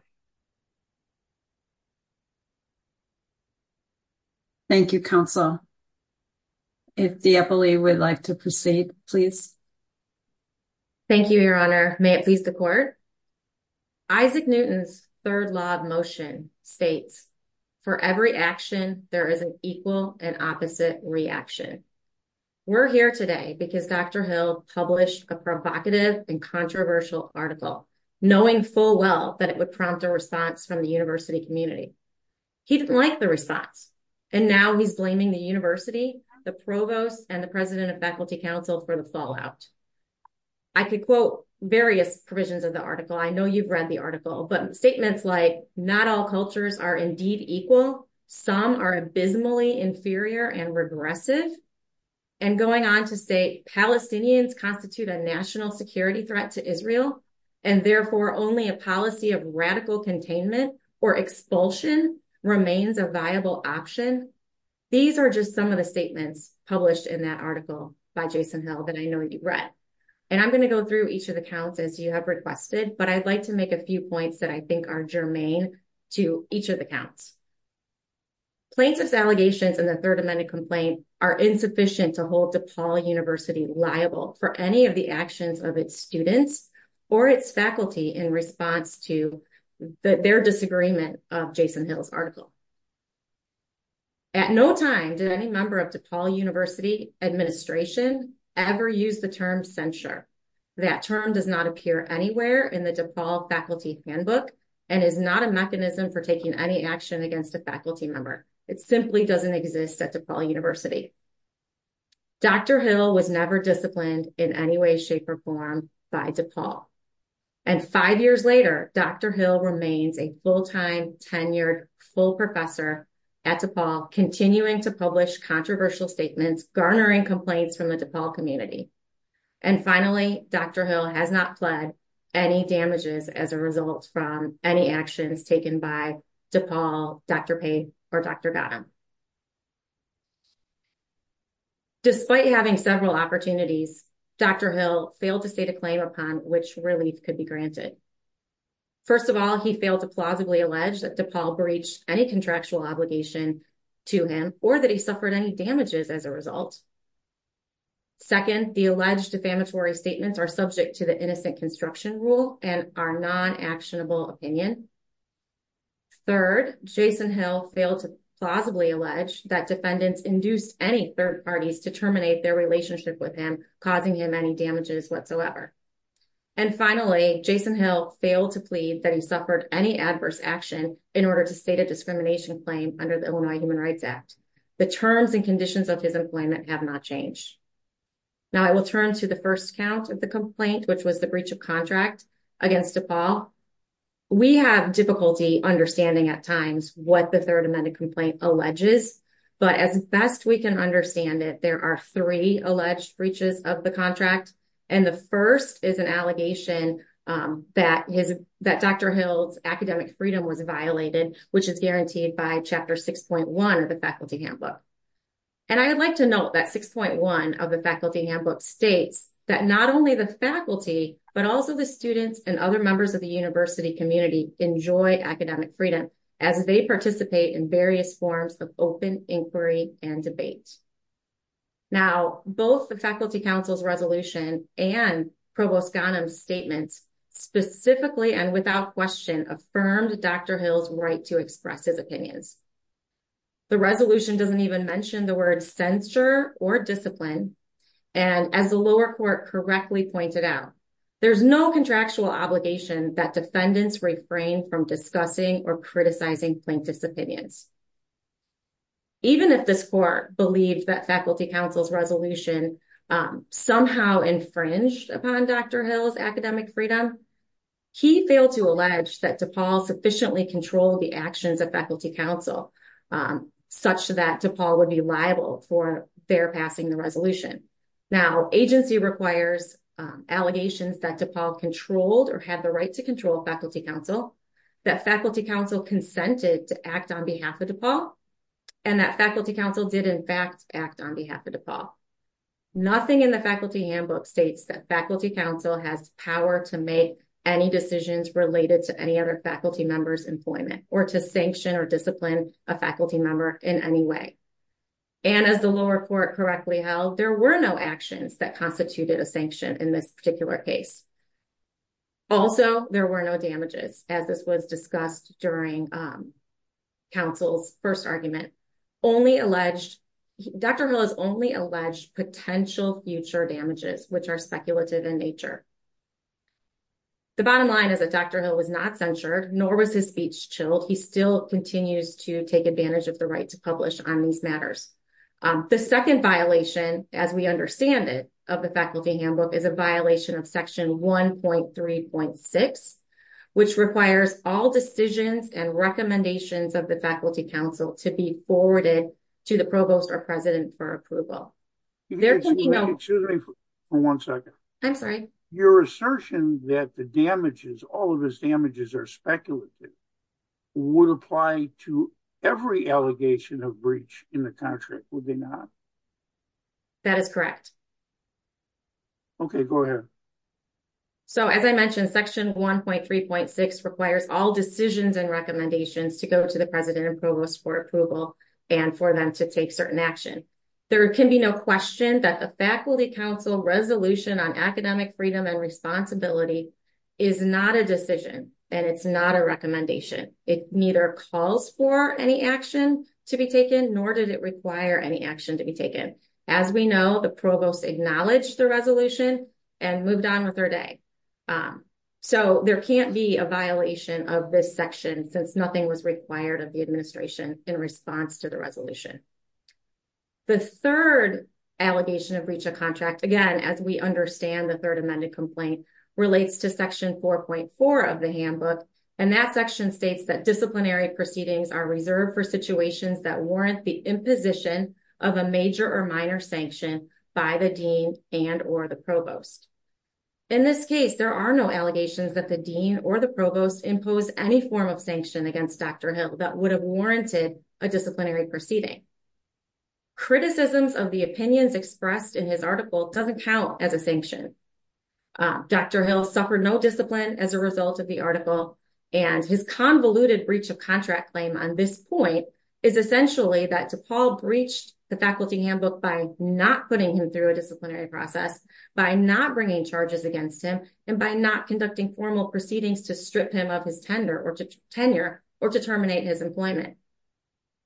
Thank you, counsel. If the FLE would like to proceed, please. Thank you, your honor. May it please the court. Isaac Newton's third law of motion states, for every action, there is an equal and opposite reaction. We're here today because Dr. Hill published a provocative and controversial article, knowing full well that it would prompt a response from the university community. He didn't like the response, and now he's blaming the university, the provost, and the president of faculty council for the fallout. I could quote various provisions of the article. I know you've read the article, but statements like not all cultures are indeed equal, some are abysmally inferior and regretted, and going on to say Palestinians constitute a national security threat to Israel, and therefore only a policy of radical containment or expulsion remains a viable option, these are just some of the statements published in that article by Jason Hill that I know you've read. And I'm going to go through each of the counts as you have requested, but I'd like to make a few points that I think are germane to each of the counts. Plaintiffs' allegations in the Third Amendment complaint are insufficient to hold the tall university liable for any of the actions of its students or its faculty in response to their disagreement of Jason Hill's article. At no time did any member of the tall university administration ever use the term censure. That term does not appear anywhere in the default faculty handbook and is not a mechanism for taking any action against a faculty member. It simply doesn't exist at DePaul University. Dr. Hill was never disciplined in any way, shape, or form by DePaul. And five years later, Dr. Hill remains a full-time, tenured, full professor at DePaul, continuing to publish controversial statements garnering complaints from the DePaul community. And finally, Dr. Hill has not pled any damages as a result from any actions taken by DePaul, Dr. Pace, or Dr. Gatton. Despite having several opportunities, Dr. Hill failed to state a claim upon which release could be granted. First of all, he failed to plausibly allege that DePaul breached any contractual obligation to him or that he suffered any damages as a result. Second, the alleged defamatory statements are subject to the innocent construction rule and are non-actionable opinions. Third, Jason Hill failed to plausibly allege that defendants induced any third parties to terminate their relationship with him, causing him any damages whatsoever. And finally, Jason Hill failed to plead that he suffered any adverse action in order to state a discrimination claim under the Illinois Human Rights Act. The terms and conditions of his employment have not changed. Now, I will turn to the first count of the complaint, which was the breach of contract against DePaul. We have difficulty understanding at times what the Third Amendment complaint alleges, but as best we can understand it, there are three alleged breaches of the contract, and the first is an allegation that Dr. Hill's academic freedom was violated, which is guaranteed by Chapter 6.1 of the Faculty Handbook. And I would like to note that 6.1 of the Faculty Handbook states that not only the faculty, but also the students and other members of the university community enjoy academic freedom as they participate in various forms of open inquiry and debate. Now, both the Faculty Council's resolution and Provost Ghanem's statement specifically and without question affirmed Dr. Hill's right to express his opinions. The resolution doesn't even mention the word censor or discipline, and as the lower court correctly pointed out, there's no contractual obligation that defendants refrain from discussing or criticizing plaintiff's opinion. Even if this court believes that Faculty Council's resolution somehow infringed upon Dr. Hill's academic freedom, he failed to allege that DePaul sufficiently controlled the actions of Faculty Council such that DePaul would be liable for their passing the resolution. Now, agency requires allegations that DePaul controlled or had the right to control Faculty Council, that Faculty Council consented to act on behalf of DePaul, and that Faculty Council did in fact act on behalf of DePaul. Nothing in the Faculty Handbook states that Faculty Council has power to make any decisions related to any other faculty member's employment or to sanction or discipline a faculty member in any way. And as the lower court correctly held, there were no actions that constituted a sanction in this particular case. Also, there were no damages, as this was discussed during counsel's first argument, only alleged, Dr. Hill has only alleged potential future damages, which are speculative in nature. The bottom line is that Dr. Hill was not censored, nor was his speech chilled. He still continues to take advantage of the right to publish on these matters. The second violation, as we understand it, of the Faculty Handbook is a violation of section 1.3.6, which requires all decisions and recommendations of the Faculty Council to be forwarded to the provost or president for approval. Excuse me for one second. I'm sorry. Your assertion that the damages, all of his damages are speculative, would apply to every allegation of breach in the contract, would they not? That is correct. Okay, go ahead. So, as I mentioned, section 1.3.6 requires all decisions and recommendations to go to the president and provost for approval and for them to take certain actions. There can be no question that the Faculty Council resolution on academic freedom and responsibility is not a decision, and it's not a recommendation. It neither calls for any action to be taken, nor does it require any action to be taken. As we know, the provost acknowledged the resolution and moved on with their day. So, there can't be a violation of this section, since nothing was required of the administration in response to the resolution. The 3rd allegation of breach of contract, again, as we understand the 3rd amended complaint, relates to section 4.4 of the handbook, and that section states that disciplinary proceedings are reserved for situations that warrant the imposition of a major or minor sanction by the dean and or the provost. In this case, there are no allegations that the dean or the provost imposed any form of sanction against Dr. Hill that would have warranted a disciplinary proceeding. Criticisms of the opinions expressed in his article doesn't count as a sanction. Dr. Hill suffered no discipline as a result of the article, and his convoluted breach of contract claim on this point is essentially that DePaul breached the faculty handbook by not putting him through a disciplinary process, by not bringing charges against him, and by not conducting formal proceedings to strip him of his tenure or to terminate his employment.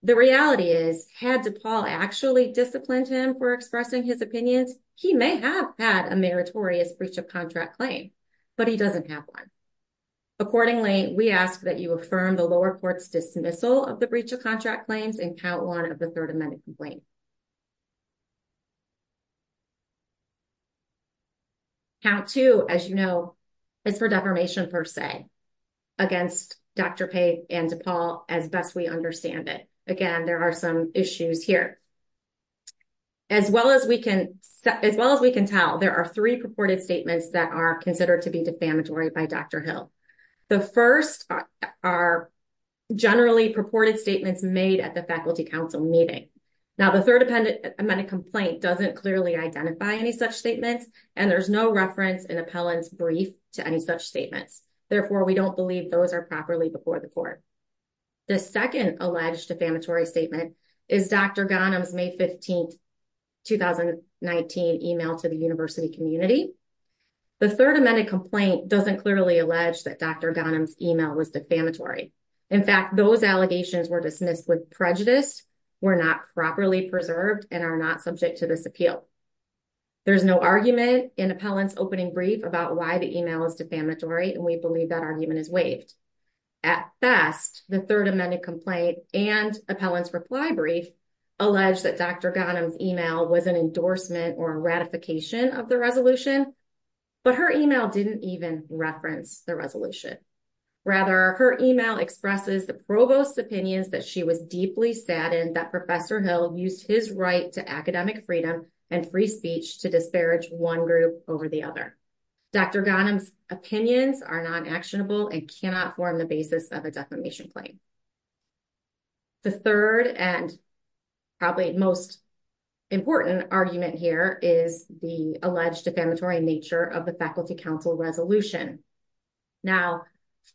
The reality is, had DePaul actually disciplined him for expressing his opinions, he may have had a meritorious breach of contract claim, but he doesn't have one. Accordingly, we ask that you affirm the lower court's dismissal of the breach of contract claims and count 1 of the 3rd amended complaint. Count 2, as you know, is for defamation per se, against Dr. Page and DePaul, as best we understand it. Again, there are some issues here. As well as we can tell, there are 3 purported statements that are considered to be defamatory by Dr. Hill. The first are generally purported statements made at the faculty council meeting. Now, the 3rd amended complaint doesn't clearly identify any such statement, and there's no reference in appellant's brief to any such statement. Therefore, we don't believe those are properly before the court. The second alleged defamatory statement is Dr. Ghanem's May 15th, 2019 email to the university community. The 3rd amended complaint doesn't clearly allege that Dr. Ghanem's email was defamatory. In fact, those allegations were dismissed with prejudice, were not properly preserved, and are not subject to this appeal. There's no argument in appellant's opening brief about why the email was defamatory, and we believe that argument is waived. At best, the 3rd amended complaint and appellant's reply brief allege that Dr. Ghanem's email was an endorsement or a ratification of the resolution, but her email didn't even reference the resolution. Rather, her email expresses the provost's opinion that she was deeply saddened that Professor Hill used his right to academic freedom and free speech to disparage one group over the other. Dr. Ghanem's opinions are non-actionable and cannot form the basis of a defamation claim. The 3rd and probably most important argument here is the alleged defamatory nature of the Faculty Council resolution. Now,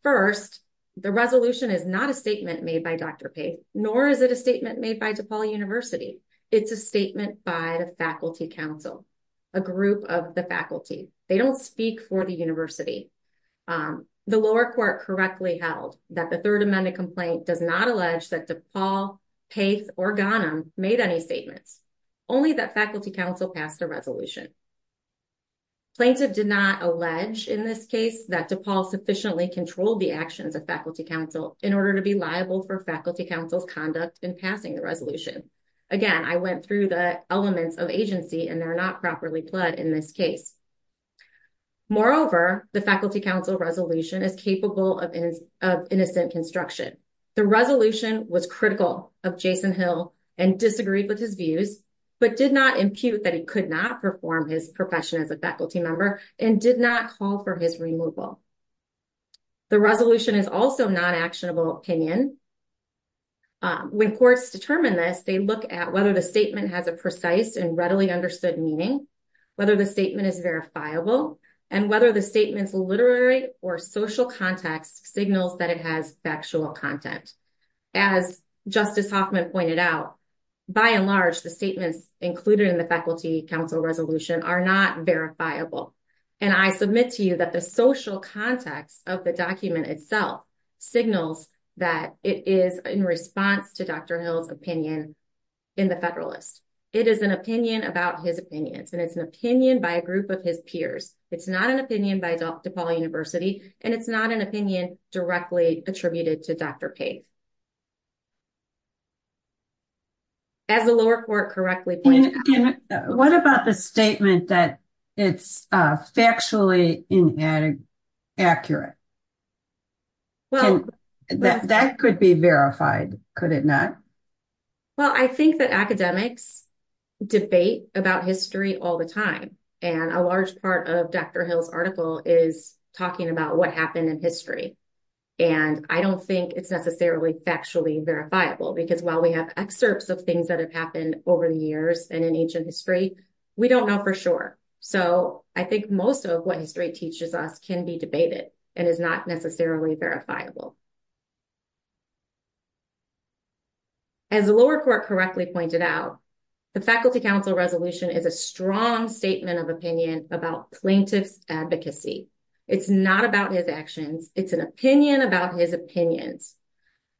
first, the resolution is not a statement made by Dr. Pace, nor is it a statement made by DePaul University. It's a statement by Faculty Council, a group of the faculty. They don't speak for the university. The lower court correctly held that the 3rd amended complaint does not allege that DePaul, Pace, or Ghanem made any statements, only that Faculty Council passed the resolution. Plaintiff did not allege in this case that DePaul sufficiently controlled the actions of Faculty Council in order to be liable for Faculty Council's conduct in passing the Again, I went through the elements of agency, and they're not properly fled in this case. Moreover, the Faculty Council resolution is capable of innocent construction. The resolution was critical of Jason Hill and disagreed with his views, but did not impute that he could not perform his profession as a faculty member and did not call for his removal. The resolution is also non-actionable opinion. When courts determine this, they look at whether the statement has a precise and readily verifiable, and whether the statement's literary or social context signals that it has factual content. As Justice Hoffman pointed out, by and large, the statement, including the Faculty Council resolution, are not verifiable. And I submit to you that the social context of the document itself signals that it is in response to Dr. Hill's opinion in the Federalist. It is an opinion about his opinions, and it's an opinion by a group of his peers. It's not an opinion by DePaul University, and it's not an opinion directly attributed to Dr. Case. As the lower court correctly pointed out- What about the statement that it's factually inaccurate? That could be verified, could it not? Well, I think that academics debate about history all the time. And a large part of Dr. Hill's article is talking about what happened in history. And I don't think it's necessarily factually verifiable, because while we have excerpts of things that have happened over the years and in ancient history, we don't know for sure. So I think most of what history teaches us can be debated and is not necessarily verifiable. As the lower court correctly pointed out, the Faculty Council Resolution is a strong statement of opinion about plaintiff's advocacy. It's not about his actions. It's an opinion about his opinions.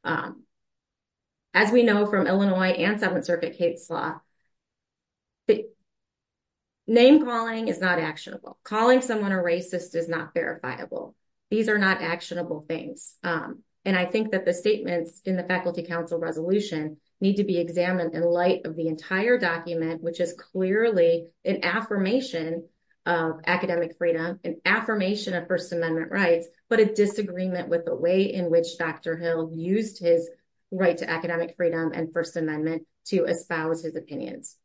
As we know from Illinois and Seventh Circuit case law, name calling is not actionable. Calling someone a racist is not verifiable. These are not actionable things. And I think that the statements in the Faculty Council Resolution need to be examined in light of the entire document, which is clearly an affirmation of academic freedom, an affirmation of First Amendment rights, but a disagreement with the way in which Dr. Hill used his right to academic freedom and First Amendment to espouse his opinions.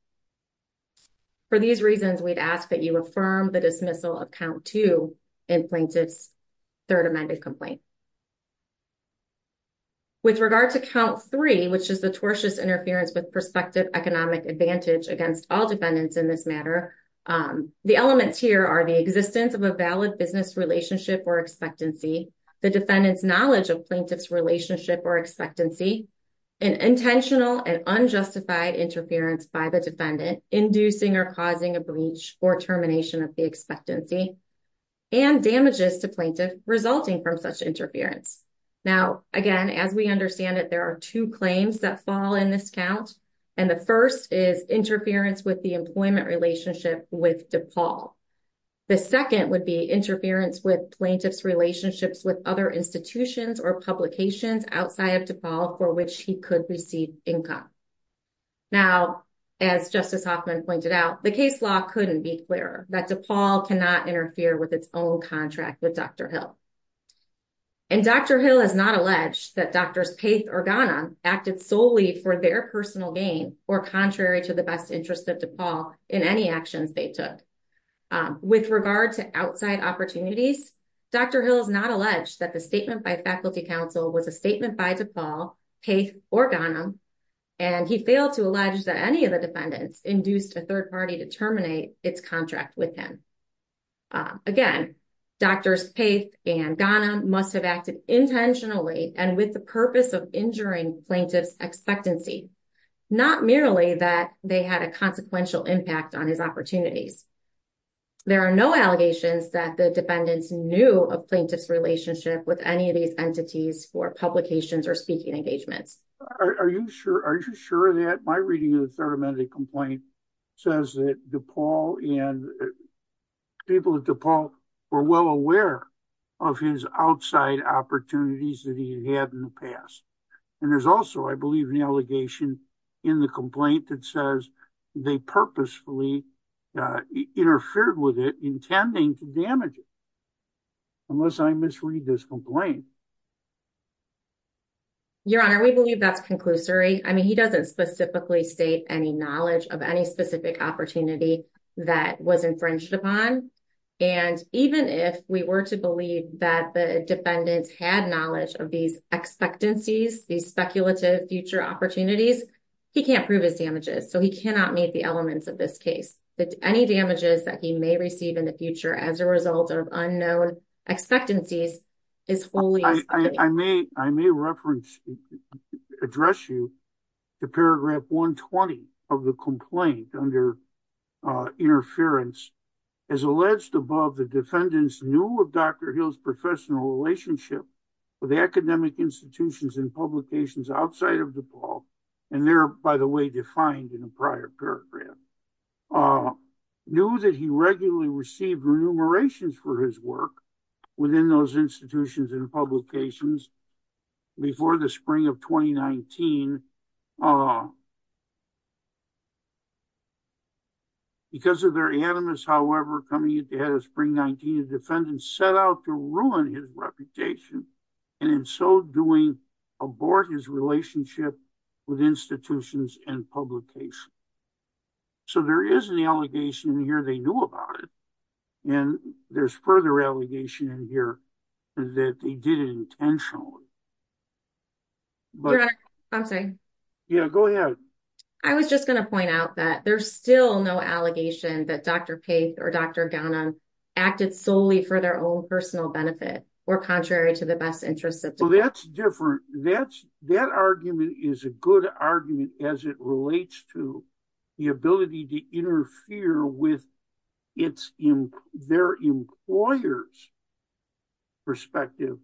For these reasons, we'd ask that you affirm the dismissal of Count 2 and plaintiff's Third Amendment complaint. With regard to Count 3, which is the tortious interference with prospective economic advantage against all defendants in this matter, the elements here are the existence of a valid business relationship or expectancy, the defendant's knowledge of plaintiff's relationship or expectancy, an intentional and unjustified interference by the defendant inducing or a breach or termination of the expectancy, and damages to plaintiff resulting from such interference. Now, again, as we understand it, there are two claims that fall in this count, and the first is interference with the employment relationship with DePaul. The second would be interference with plaintiff's relationships with other institutions or publications outside of DePaul for which he could receive income. Now, as Justice Hoffman pointed out, the case law couldn't be clearer, that DePaul cannot interfere with its own contract with Dr. Hill. And Dr. Hill has not alleged that Drs. Pace or Ghanem acted solely for their personal gain or contrary to the best interest of DePaul in any actions they took. With regard to outside opportunities, Dr. Hill has not alleged that the statement by counsel was a statement by DePaul, Pace, or Ghanem, and he failed to allege that any of the defendants induced a third party to terminate its contract with him. Again, Drs. Pace and Ghanem must have acted intentionally and with the purpose of injuring plaintiff's expectancy, not merely that they had a consequential impact on his opportunities. There are no allegations that the defendants knew a plaintiff's relationship with any of the entities for publications or speaking engagements. Are you sure that my reading of the third amendment complaint says that DePaul and people at DePaul were well aware of his outside opportunities that he had in the past? And there's also, I believe, an allegation in the complaint that says they purposefully interfered with it intending to damage it, unless I misread this complaint. Your Honor, we believe that's conclusory. I mean, he doesn't specifically state any knowledge of any specific opportunity that was infringed upon. And even if we were to believe that the defendants had knowledge of these expectancies, these speculative future opportunities, he can't so he cannot meet the elements of this case. But any damages that he may receive in the future as a result of unknown expectancies is fully- I may reference, address you to paragraph 120 of the complaint under interference. As alleged above, the defendants knew of Dr. Hill's professional relationship with academic institutions and publications outside of DePaul. And they're, by the way, defined in the prior paragraph. Knew that he regularly received remunerations for his work within those institutions and publications before the spring of 2019. Because of their animus, however, coming into head of spring 19, the defendants set out to reputation and in so doing, abort his relationship with institutions and publications. So there is an allegation in here they knew about it. And there's further allegation in here that they did it intentionally. Okay. Yeah, go ahead. I was just going to point out that there's still no allegation that Dr. Pace or Dr. Gowna acted solely for their own personal benefit or contrary to the best interest of- Well, that's different. That argument is a good argument as it relates to the ability to interfere with their employer's perspective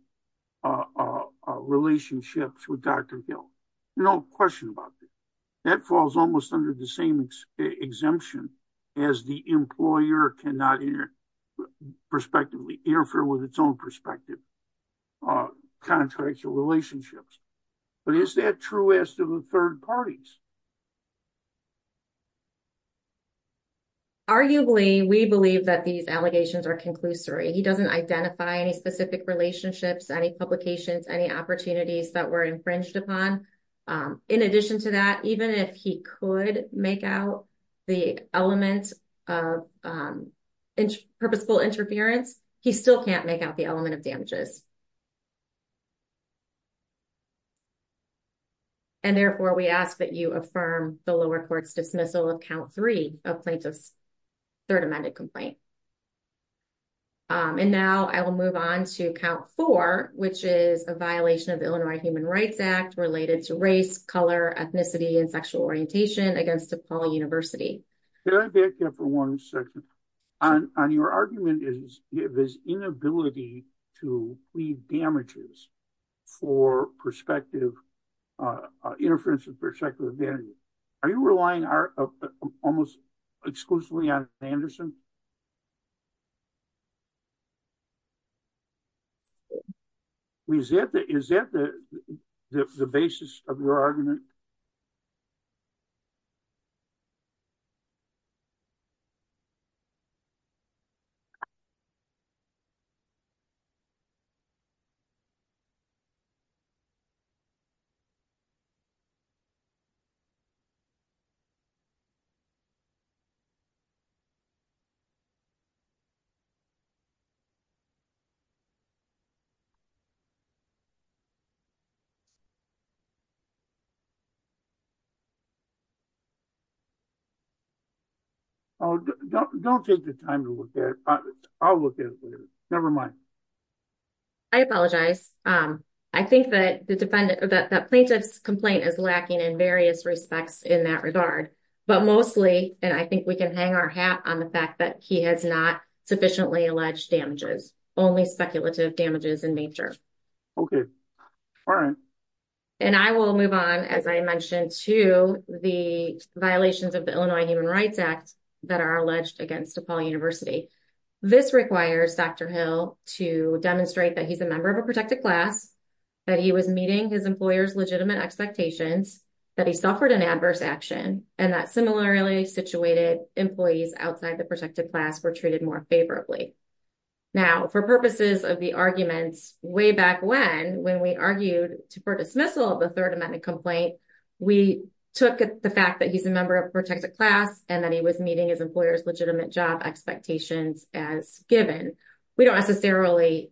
relationships with Dr. Hill. No question about it. That falls almost under the same exemption as the employer cannot interfere with its own perspective contrary to relationships. But is that true as to the third parties? Arguably, we believe that these allegations are conclusory. He doesn't identify any specific relationships, any publications, any opportunities that were infringed upon. In addition to that, even if he could make out the element of purposeful interference, he still can't make out the element of damages. And therefore, we ask that you affirm the lower court's dismissal of count three of plaintiff's third amendment complaint. And now I will move on to count four, which is a violation of Illinois Human Rights Act related to race, color, ethnicity, and sexual orientation against DePaul University. Can I back up for one second? On your argument is this inability to plead damages for perspective interference with their secular values. Are you relying almost exclusively on Anderson? Is that the basis of your argument? Oh, don't take the time to look at it. I'll look at it later. Never mind. I apologize. I think that plaintiff's complaint is lacking in various respects in that regard. But mostly, and I think we can hang our hat on the fact that he has not sufficiently alleged damages, only speculative damages in nature. Okay. All right. And I will move on, as I mentioned, to the violations of the Illinois Human Rights Act that are alleged against DePaul University. This requires Dr. Hill to demonstrate that he's a member of a protected class, that he was meeting his employer's legitimate expectations, that he similarly situated employees outside the protected class were treated more favorably. Now, for purposes of the argument, way back when, when we argued for dismissal of the third amendment complaint, we took the fact that he's a member of a protected class and that he was meeting his employer's legitimate job expectations as given. We don't necessarily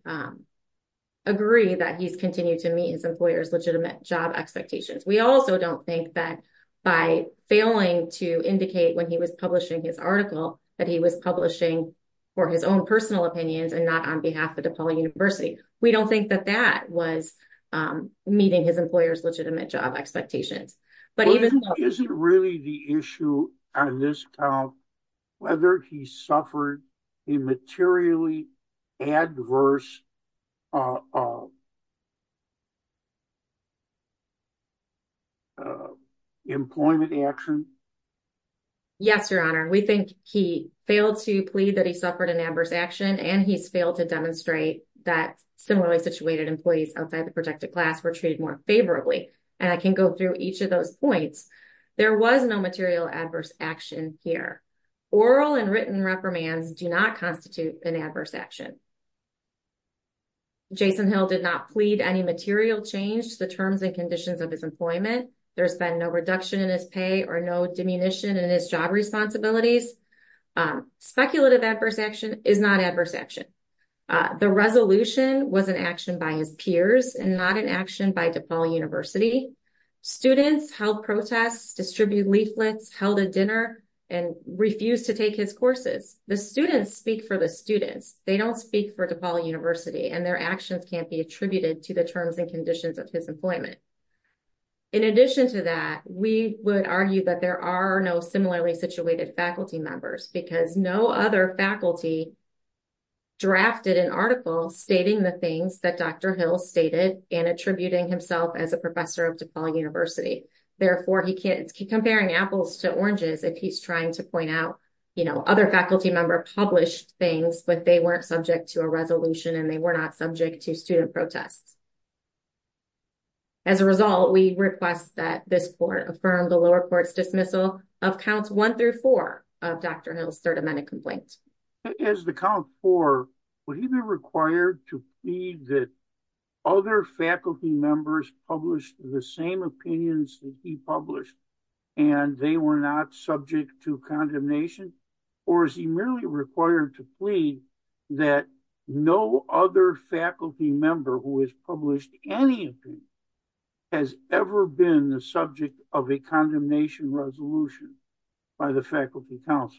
agree that he's continued to meet his employer's legitimate job expectations. We also don't think that by failing to indicate when he was publishing his article, that he was publishing for his own personal opinions and not on behalf of DePaul University. We don't think that that was meeting his employer's legitimate job expectations. But even- Is it really the issue on this count whether he suffered a materially adverse employment action? Yes, your honor. We think he failed to plead that he suffered an adverse action and he failed to demonstrate that similarly situated employees outside the protected class were treated more favorably. And I can go through each of those points. There was no material adverse action here. Oral and written reprimands do not constitute an adverse action. Jason Hill did not plead any material change to the terms and conditions of his employment. There's been no reduction in his pay or no diminution in his job responsibilities. Speculative adverse action is not adverse action. The resolution was an action by his peers and not an action by DePaul University. Students held protests, distributed leaflets, held a dinner, and refused to take his courses. The students speak for the students. They don't speak for DePaul University and their actions can't be attributed to the terms and conditions of his employment. In addition to that, we would argue that there are no similarly situated faculty members because no other faculty drafted an article stating the things that Dr. Hill stated and attributing himself as a professor of DePaul University. Therefore, he can't keep comparing apples to oranges if he's trying to point out, you know, other faculty member published things, but they weren't subject to a resolution and they were not subject to student protests. As a result, we request that this court affirm the lower court's dismissal of counts one through four of Dr. Hill's third amendment complaint. As the count four, would he be required to feed the other faculty members published the same opinions that he published and they were not subject to condemnation? Or is he merely required to plead that no other faculty member who has published anything has ever been the subject of a condemnation resolution by the faculty council?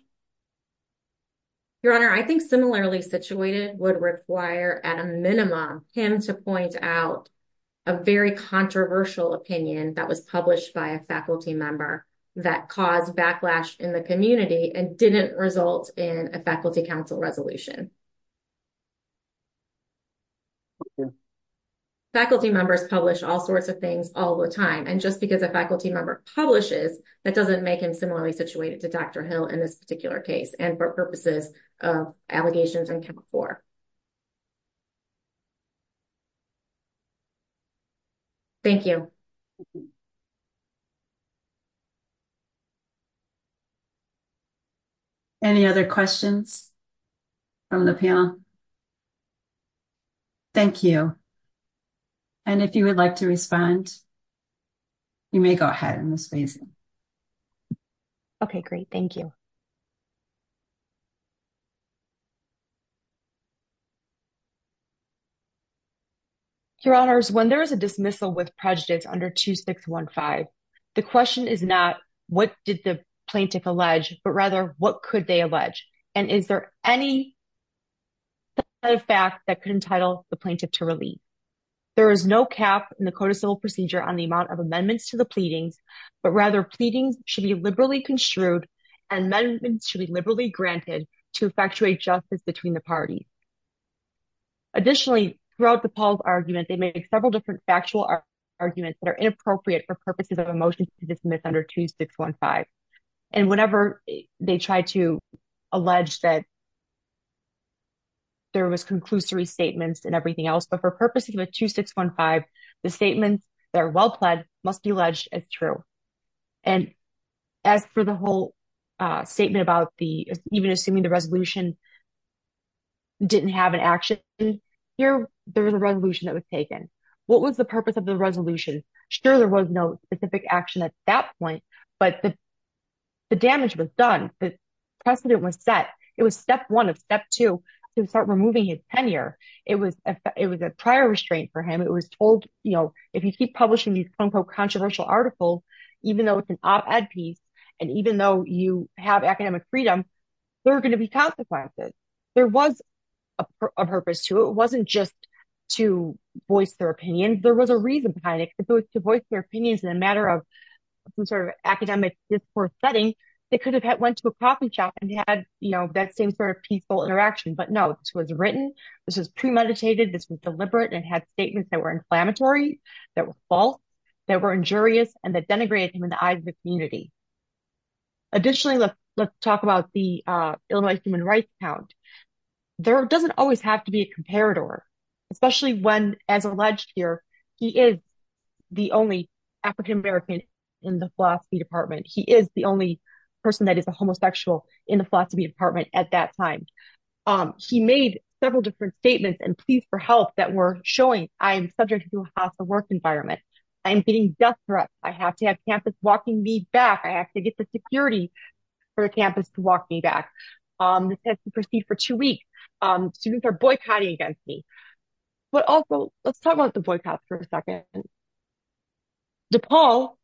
Your Honor, I think similarly situated would require at a minimum him to point out a very controversial opinion that was published by a faculty member that caused backlash in the community and didn't result in a faculty council resolution. Faculty members publish all sorts of things all the time and just because a faculty member publishes, that doesn't make him similarly situated to Dr. Hill in this particular case and for purposes of allegations in court. Thank you. Any other questions from the panel? Thank you. And if you would like to respond, you may go ahead. Okay, great. Thank you. Your Honors, when there is a dismissal with prejudice under 2615, the question is not what did the plaintiff allege, but rather what could they allege? And is there any fact that could entitle the plaintiff to release? There is no cap in the codicil procedure on the amount of amendments to the pleading, but rather pleading should be construed and amendments should be liberally granted to effectuate justice between the parties. Additionally, throughout the Paul's argument, they made several different factual arguments that are inappropriate for purposes of a motion to dismiss under 2615. And whenever they try to allege that there was conclusory statements and everything else, but for purposes of 2615, the statements that are well pledged must be alleged as true. And as for the whole statement about the, even assuming the resolution didn't have an action, here, there was a resolution that was taken. What was the purpose of the resolution? Sure, there was no specific action at that point, but the damage was done. The precedent was set. It was step one of step two to start removing his tenure. It was a prior restraint for him. It was told, you know, if you keep these controversial articles, even though it's an op-ed piece, and even though you have academic freedom, there are going to be consequences. There was a purpose to it. It wasn't just to voice their opinions. There was a reason behind it. If it was to voice their opinions in a matter of some sort of academic discourse setting, they could have had went to a coffee shop and had, you know, that same sort of peaceful interaction. But no, this was written. This was premeditated. This was deliberate and had statements that were inflammatory, that were false, that were injurious, and that denigrated him in the eyes of the community. Additionally, let's talk about the Illinois Human Rights Count. There doesn't always have to be a comparator, especially when, as alleged here, he is the only African American in the philosophy department. He is the only person that is a homosexual in the philosophy department at that time. He made several different statements and pleas for help that were showing, I am subject to a hostile work environment. I am being death-threatened. I have to have campus walking me back. I have to get the security for the campus to walk me back. This has to proceed for two weeks. Students are boycotting against me. But also, let's talk about the boycotts for a second. DePaul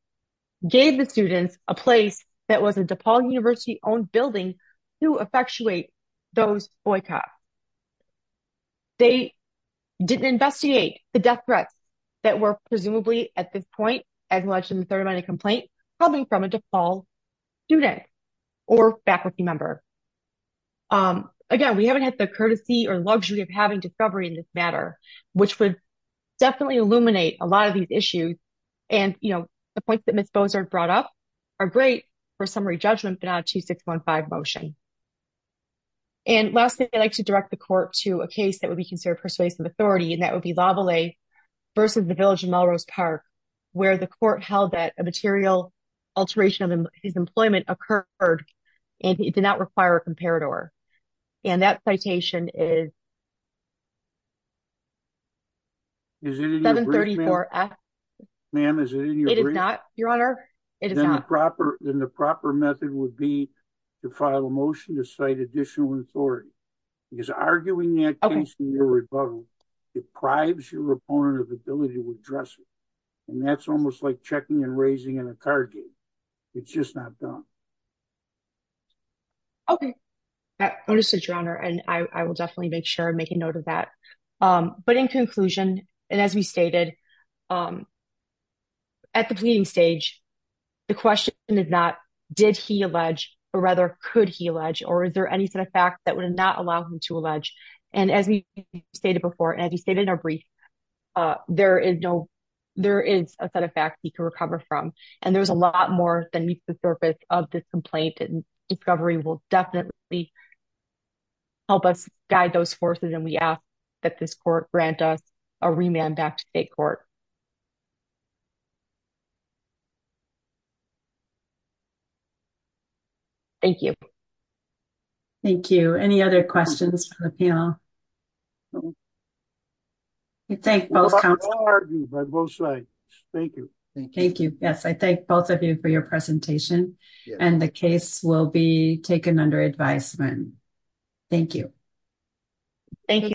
gave the students a place that was a DePaul University-owned building to effectuate those boycotts. They didn't investigate the death threats that were presumably, at this point, as alleged in the third line of complaint, coming from a DePaul student or faculty member. Again, we haven't had the courtesy or luxury of having discovery in this matter, which would definitely illuminate a lot of these issues. And, you know, the points that did not have a 2615 motion. And lastly, I'd like to direct the court to a case that would be considered persuasive authority, and that would be Lavallee versus the village of Melrose Park, where the court held that a material alteration of his employment occurred, and it did not require a comparator. And that citation is 734-S. It is not, Your Honor. Then the proper method would be to file a motion to cite additional authority. Because arguing that case in your rebuttal, it bribes your opponent of the ability to address it. And that's almost like checking and raising in a card game. It's just not done. Okay. That is true, Your Honor. And I will definitely make sure and make a note of that. But in conclusion, and as we stated, at the pleading stage, the question is not, did he allege? Or rather, could he allege? Or is there any sort of facts that would not allow him to allege? And as we stated before, and as we stated in our brief, there is no, there is a set of facts he can recover from. And there's a lot more than meets the surface of this complaint. Recovery will definitely help us guide those forces. And we ask that this court grant us a remand back to state court. Thank you. Thank you. Any other questions? We thank both. Thank you. Thank you. Yes. I thank both of you for your presentation and the case will be taken under advisement. Thank you. Thank you.